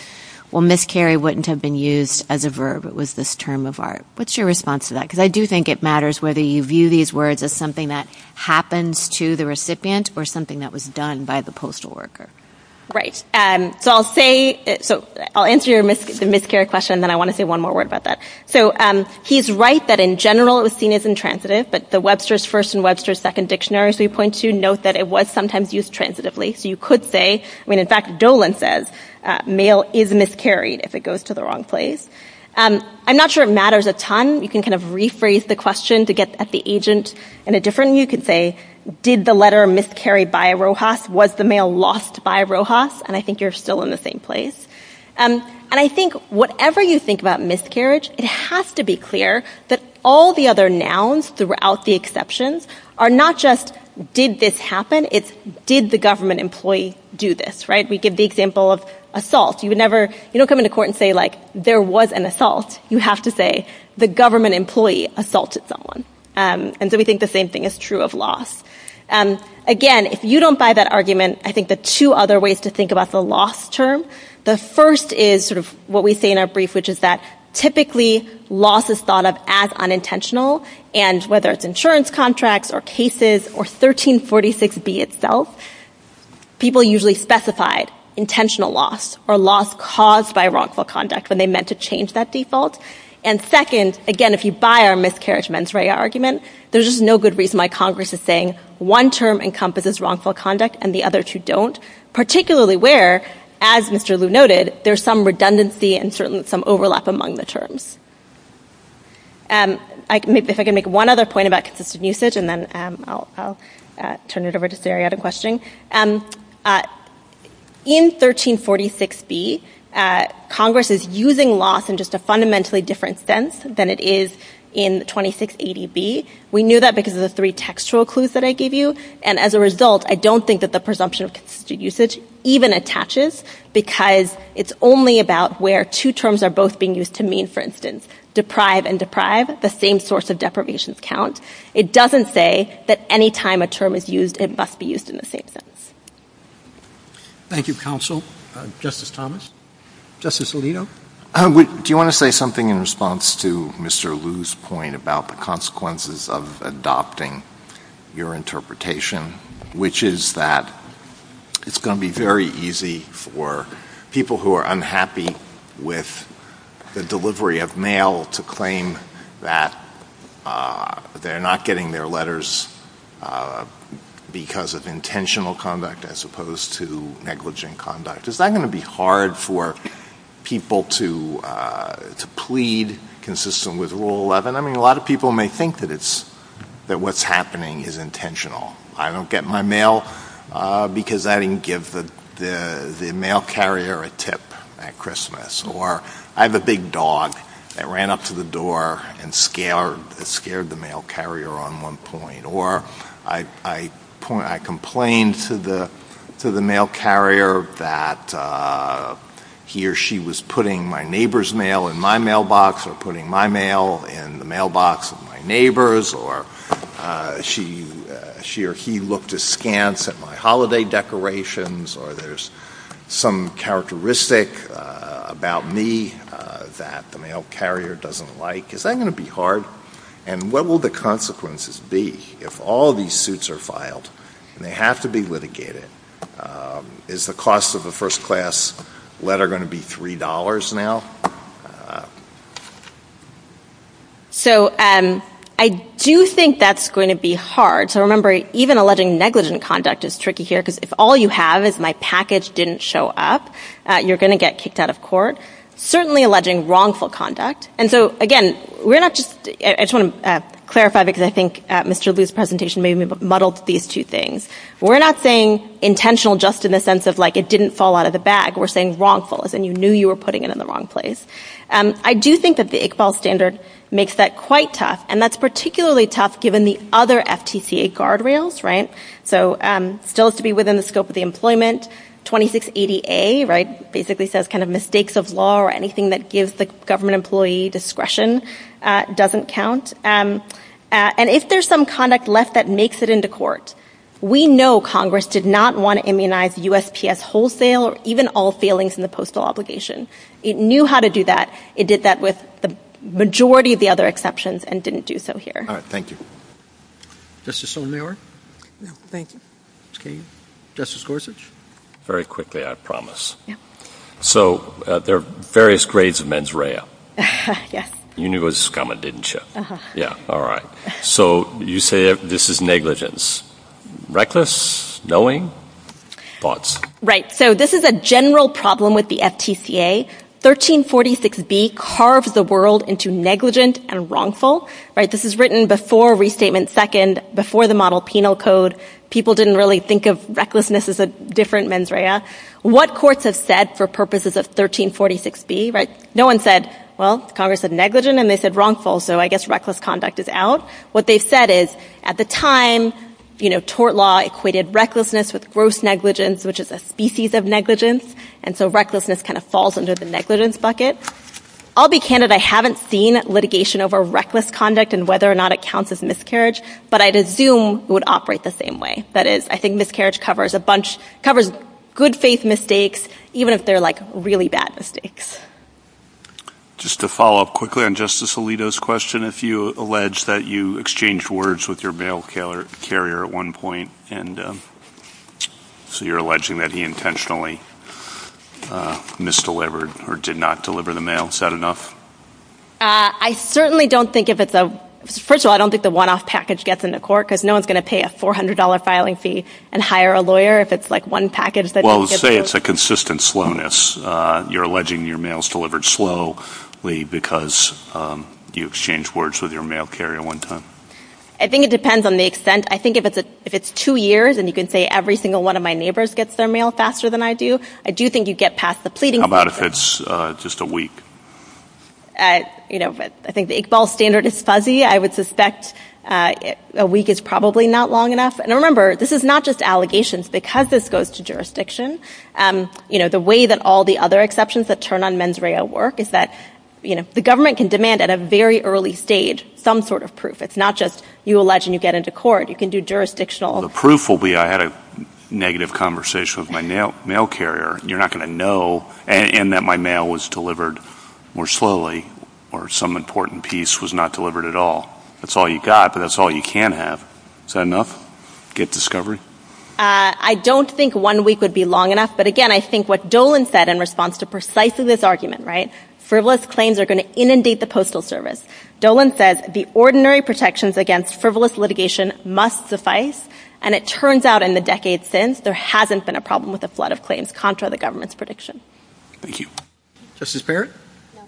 well, miscarry wouldn't have been used as a verb, it was this term of art. What's your response to that? Because I do think it matters whether you view these words as something that happens to the recipient or something that was done by the postal worker. Right. So I'll say, so I'll answer your miscarriage question, and then I want to say one more word about that. So he's right that in general it was seen as intransitive, but the Webster's First and Webster's Second Dictionary, as we point to, note that it was sometimes used transitively. So you could say, I mean, in fact, Dolan says, mail is miscarried if it goes to the wrong place. I'm not sure it matters a ton. You can kind of rephrase the question to get at the agent in a different way. You could say, did the letter miscarry by Rojas? Was the mail lost by Rojas? And I think you're still in the same place. And I think whatever you think about miscarriage, it has to be clear that all the other nouns throughout the exceptions are not just, did this happen? It's, did the government employee do this? Right. We give the example of assault. You would never, you don't come into court and say, like, there was an assault. You have to say, the government employee assaulted someone. And so we think the same thing is true of loss. Again, if you don't buy that argument, I think the two other ways to think about the loss term, the first is sort of what we say in our brief, which is that typically loss is thought of as unintentional. And whether it's insurance contracts or cases or 1346B itself, people usually specified intentional loss or loss caused by wrongful conduct when they meant to change that default. And second, again, if you buy our miscarriage mens rea argument, there's just no good reason why Congress is saying one term encompasses wrongful conduct and the other two don't. Particularly where, as Mr. Liu noted, there's some redundancy and certainly some overlap among the terms. If I can make one other point about consistent usage, and then I'll turn it over to Sariad in questioning. In 1346B, Congress is using loss in just a fundamentally different sense than it is in 2680B. We knew that because of the three textual clues that I gave you. And as a result, I don't think that the presumption of consistent usage even attaches because it's only about where two terms are both being used to mean, for instance, deprive and deprive, the same source of deprivations count. It doesn't say that any time a term is used, it must be used in the same sense. Thank you, counsel. Justice Thomas. Justice Alito. Do you want to say something in response to Mr. Liu's point about the consequences of adopting your interpretation, which is that it's going to be very easy for people who are unhappy with the delivery of mail to claim that they're not getting their letters because of intentional conduct as opposed to negligent conduct. Is that going to be hard for people to plead consistent with Rule 11? I mean, a lot of people may think that what's happening is intentional. I don't get my mail because I didn't give the mail carrier a tip at Christmas. Or I have a big dog that ran up to the door and scared the mail carrier on one point. Or I complained to the mail carrier that he or she was putting my neighbor's mail in my mailbox, or putting my mail in the mailbox of my neighbors, or she or he looked askance at my holiday decorations, or there's some characteristic about me that the mail carrier doesn't like. Is that going to be hard? And what will the consequences be if all these suits are filed and they have to be litigated? Is the cost of a first class letter going to be $3 now? So I do think that's going to be hard. So remember, even alleging negligent conduct is tricky here because if all you have is my package didn't show up, you're going to get kicked out of court. Certainly alleging wrongful conduct. And so again, we're not just, I just want to clarify because I think Mr. Liu's presentation maybe muddled these two things. We're not saying intentional just in the sense of like it didn't fall out of the bag. We're saying wrongful, as in you knew you were putting it in the wrong place. I do think that the ICPAL standard makes that quite tough. And that's particularly tough given the other FTCA guardrails, right? So still has to be within the scope of the employment, 2680A, right, basically says kind of mistakes of law or anything that gives the government employee discretion doesn't count. And if there's some conduct left that makes it into court, we know Congress did not want to immunize USPS wholesale or even all failings in the postal obligation. It knew how to do that. It did that with the majority of the other exceptions and didn't do so here. All right. Thank you. Justice Sotomayor. Thank you. Justice Gorsuch. Very quickly, I promise. So there are various grades of mens rea. Yes. You knew it was coming, didn't you? Yeah. All right. So you say this is negligence. Reckless, knowing, thoughts? Right. So this is a general problem with the FTCA. 1346B carves the world into negligent and wrongful, right? This is written before Restatement Second, before the model penal code. People didn't really think of recklessness as a different mens rea. What courts have said for purposes of 1346B, right? No one said, well, Congress said negligent and they said wrongful. So I guess reckless conduct is out. What they've said is at the time, you know, tort law equated recklessness with gross negligence, which is a species of negligence. And so recklessness kind of falls under the negligence bucket. I'll be candid. I haven't seen litigation over reckless conduct and whether or not it counts as miscarriage, but I'd assume it would operate the same way. That is, I think miscarriage covers a bunch, covers good faith mistakes, even if they're like really bad mistakes. Just to follow up quickly on Justice Alito's question, if you allege that you exchanged words with your mail carrier at one point, and so you're alleging that he intentionally misdelivered or did not deliver the mail, is that enough? I certainly don't think if it's a, first of all, I don't think the one-off package gets into court because no one's going to pay a $400 filing fee and hire a lawyer if it's like one package that doesn't get delivered. Well, let's say it's a consistent slowness. You're alleging your mail's delivered slowly because you exchanged words with your mail carrier one time. I think it depends on the extent. I think if it's two years, and you can say every single one of my neighbors gets their mail faster than I do, I do think you get past the pleading. How about if it's just a week? I think the Iqbal standard is fuzzy. I would suspect a week is probably not long enough. And remember, this is not just allegations. Because this goes to jurisdiction, you know, the way that all the other exceptions that turn on mens rea work is that, you know, the government can demand at a very early stage some sort of proof. It's not just you allege and you get into court. You can do jurisdictional. The proof will be I had a negative conversation with my mail carrier. You're not going to know. And that my mail was delivered more slowly or some important piece was not delivered at all. That's all you got, but that's all you can have. Is that enough? Get discovery? I don't think one week would be long enough, but again, I think what Dolan said in response to precisely this argument, right? Frivolous claims are going to inundate the Postal Service. Dolan says the ordinary protections against frivolous litigation must suffice. And it turns out in the decades since, there hasn't been a problem with a flood of claims contra the government's prediction. Thank you. Justice Parrott? No.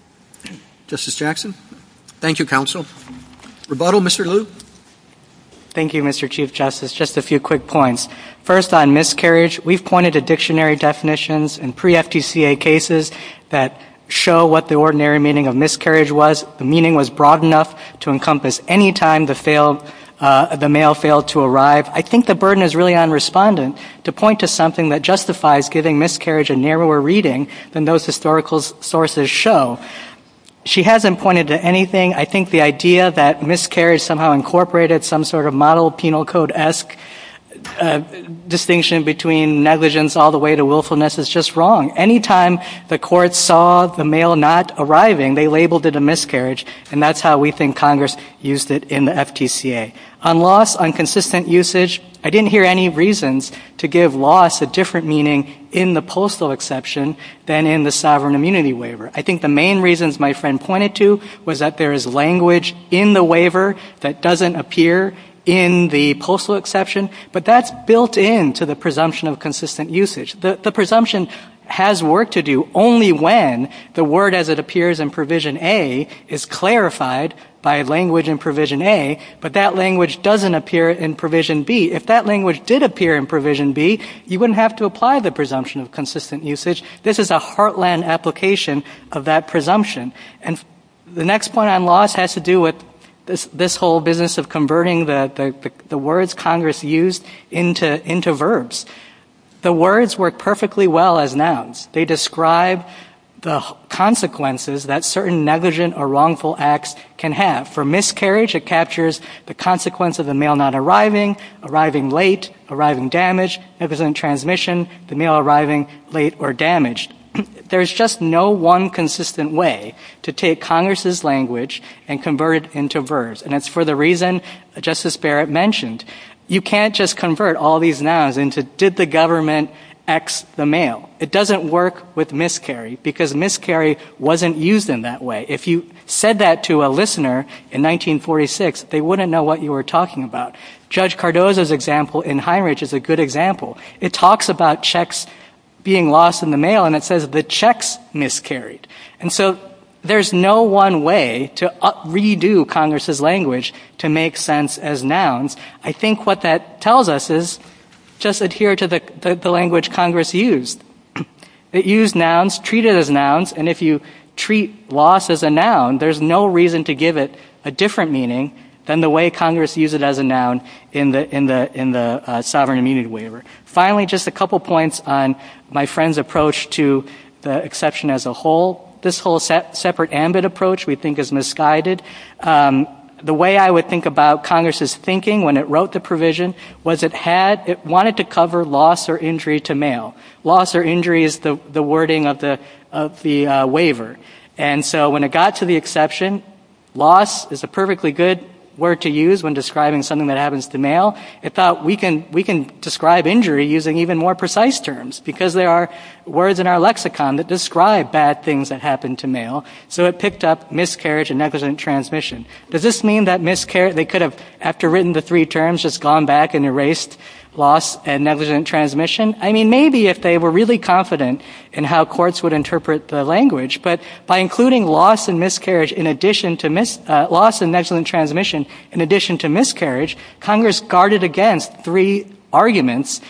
Justice Jackson? No. Thank you, Counsel. Rebuttal, Mr. Liu? Thank you, Mr. Chief Justice. Just a few quick points. First on miscarriage, we've pointed to dictionary definitions in pre-FTCA cases that show what the ordinary meaning of miscarriage was. The meaning was broad enough to encompass any time the mail failed to arrive. I think the burden is really on respondent to point to something that justifies giving miscarriage a narrower reading than those historical sources show. She hasn't pointed to anything. I think the idea that miscarriage somehow incorporated some sort of model penal code-esque distinction between negligence all the way to willfulness is just wrong. Any time the court saw the mail not arriving, they labeled it a miscarriage. And that's how we think Congress used it in the FTCA. On loss, on consistent usage, I didn't hear any reasons to give loss a different meaning in the postal exception than in the sovereign immunity waiver. I think the main reasons my friend pointed to was that there is language in the waiver that doesn't appear in the postal exception, but that's built into the presumption of consistent usage. The presumption has work to do only when the word as it appears in Provision A is clarified by language in Provision A, but that language doesn't appear in Provision B. If that language did appear in Provision B, you wouldn't have to apply the presumption of consistent usage. This is a heartland application of that presumption. And the next point on loss has to do with this whole business of converting the words Congress used into verbs. The words work perfectly well as nouns. They describe the consequences that certain negligent or wrongful acts can have. For miscarriage, it captures the consequence of the mail not arriving, arriving late, arriving damaged, negligent transmission, the mail arriving late or damaged. There's just no one consistent way to take Congress's language and convert it into verbs. And that's for the reason Justice Barrett mentioned. You can't just convert all these nouns into did the government X the mail. It doesn't work with miscarry because miscarry wasn't used in that way. If you said that to a listener in 1946, they wouldn't know what you were talking about. Judge Cardozo's example in Heinrich is a good example. It talks about checks being lost in the mail and it says the checks miscarried. And so there's no one way to redo Congress's language to make sense as nouns. I think what that tells us is just adhere to the language Congress used. It used nouns, treated as nouns, and if you treat loss as a noun, there's no reason to give it a different meaning than the way Congress used it as a noun in the Sovereign Immunity Waiver. Finally, just a couple points on my friend's approach to the exception as a whole. This whole separate ambit approach we think is misguided. The way I would think about Congress's thinking when it wrote the provision was it wanted to cover loss or injury to mail. Loss or injury is the wording of the waiver. And so when it got to the exception, loss is a perfectly good word to use when describing something that happens to mail. It thought we can describe injury using even more precise terms because there are words in our lexicon that describe bad things that happen to mail. So it picked up miscarriage and negligent transmission. Does this mean that they could have, after written the three terms, just gone back and erased loss and negligent transmission? I mean, maybe if they were really confident in how courts would interpret the language. But by including loss and miscarriage in addition to—loss and negligent transmission in addition to miscarriage, Congress guarded against three arguments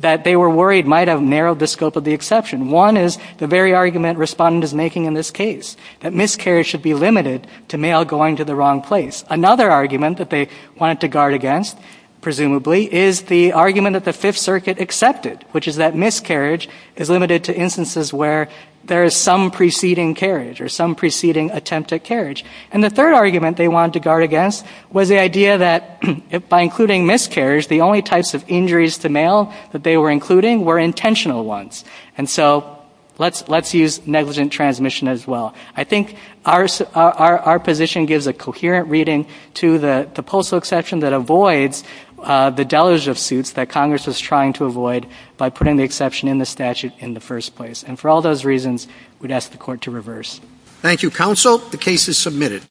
that they were worried might have narrowed the scope of the exception. One is the very argument Respondent is making in this case, that miscarriage should be limited to mail going to the wrong place. Another argument that they wanted to guard against, presumably, is the argument that the Fifth Circuit accepted, which is that miscarriage is limited to instances where there is some preceding carriage or some preceding attempt at carriage. And the third argument they wanted to guard against was the idea that by including miscarriage, the only types of injuries to mail that they were including were intentional ones. And so let's use negligent transmission as well. I think our position gives a coherent reading to the postal exception that avoids the deluge of suits that Congress was trying to avoid by putting the exception in the statute in the first place. And for all those reasons, we'd ask the Court to reverse.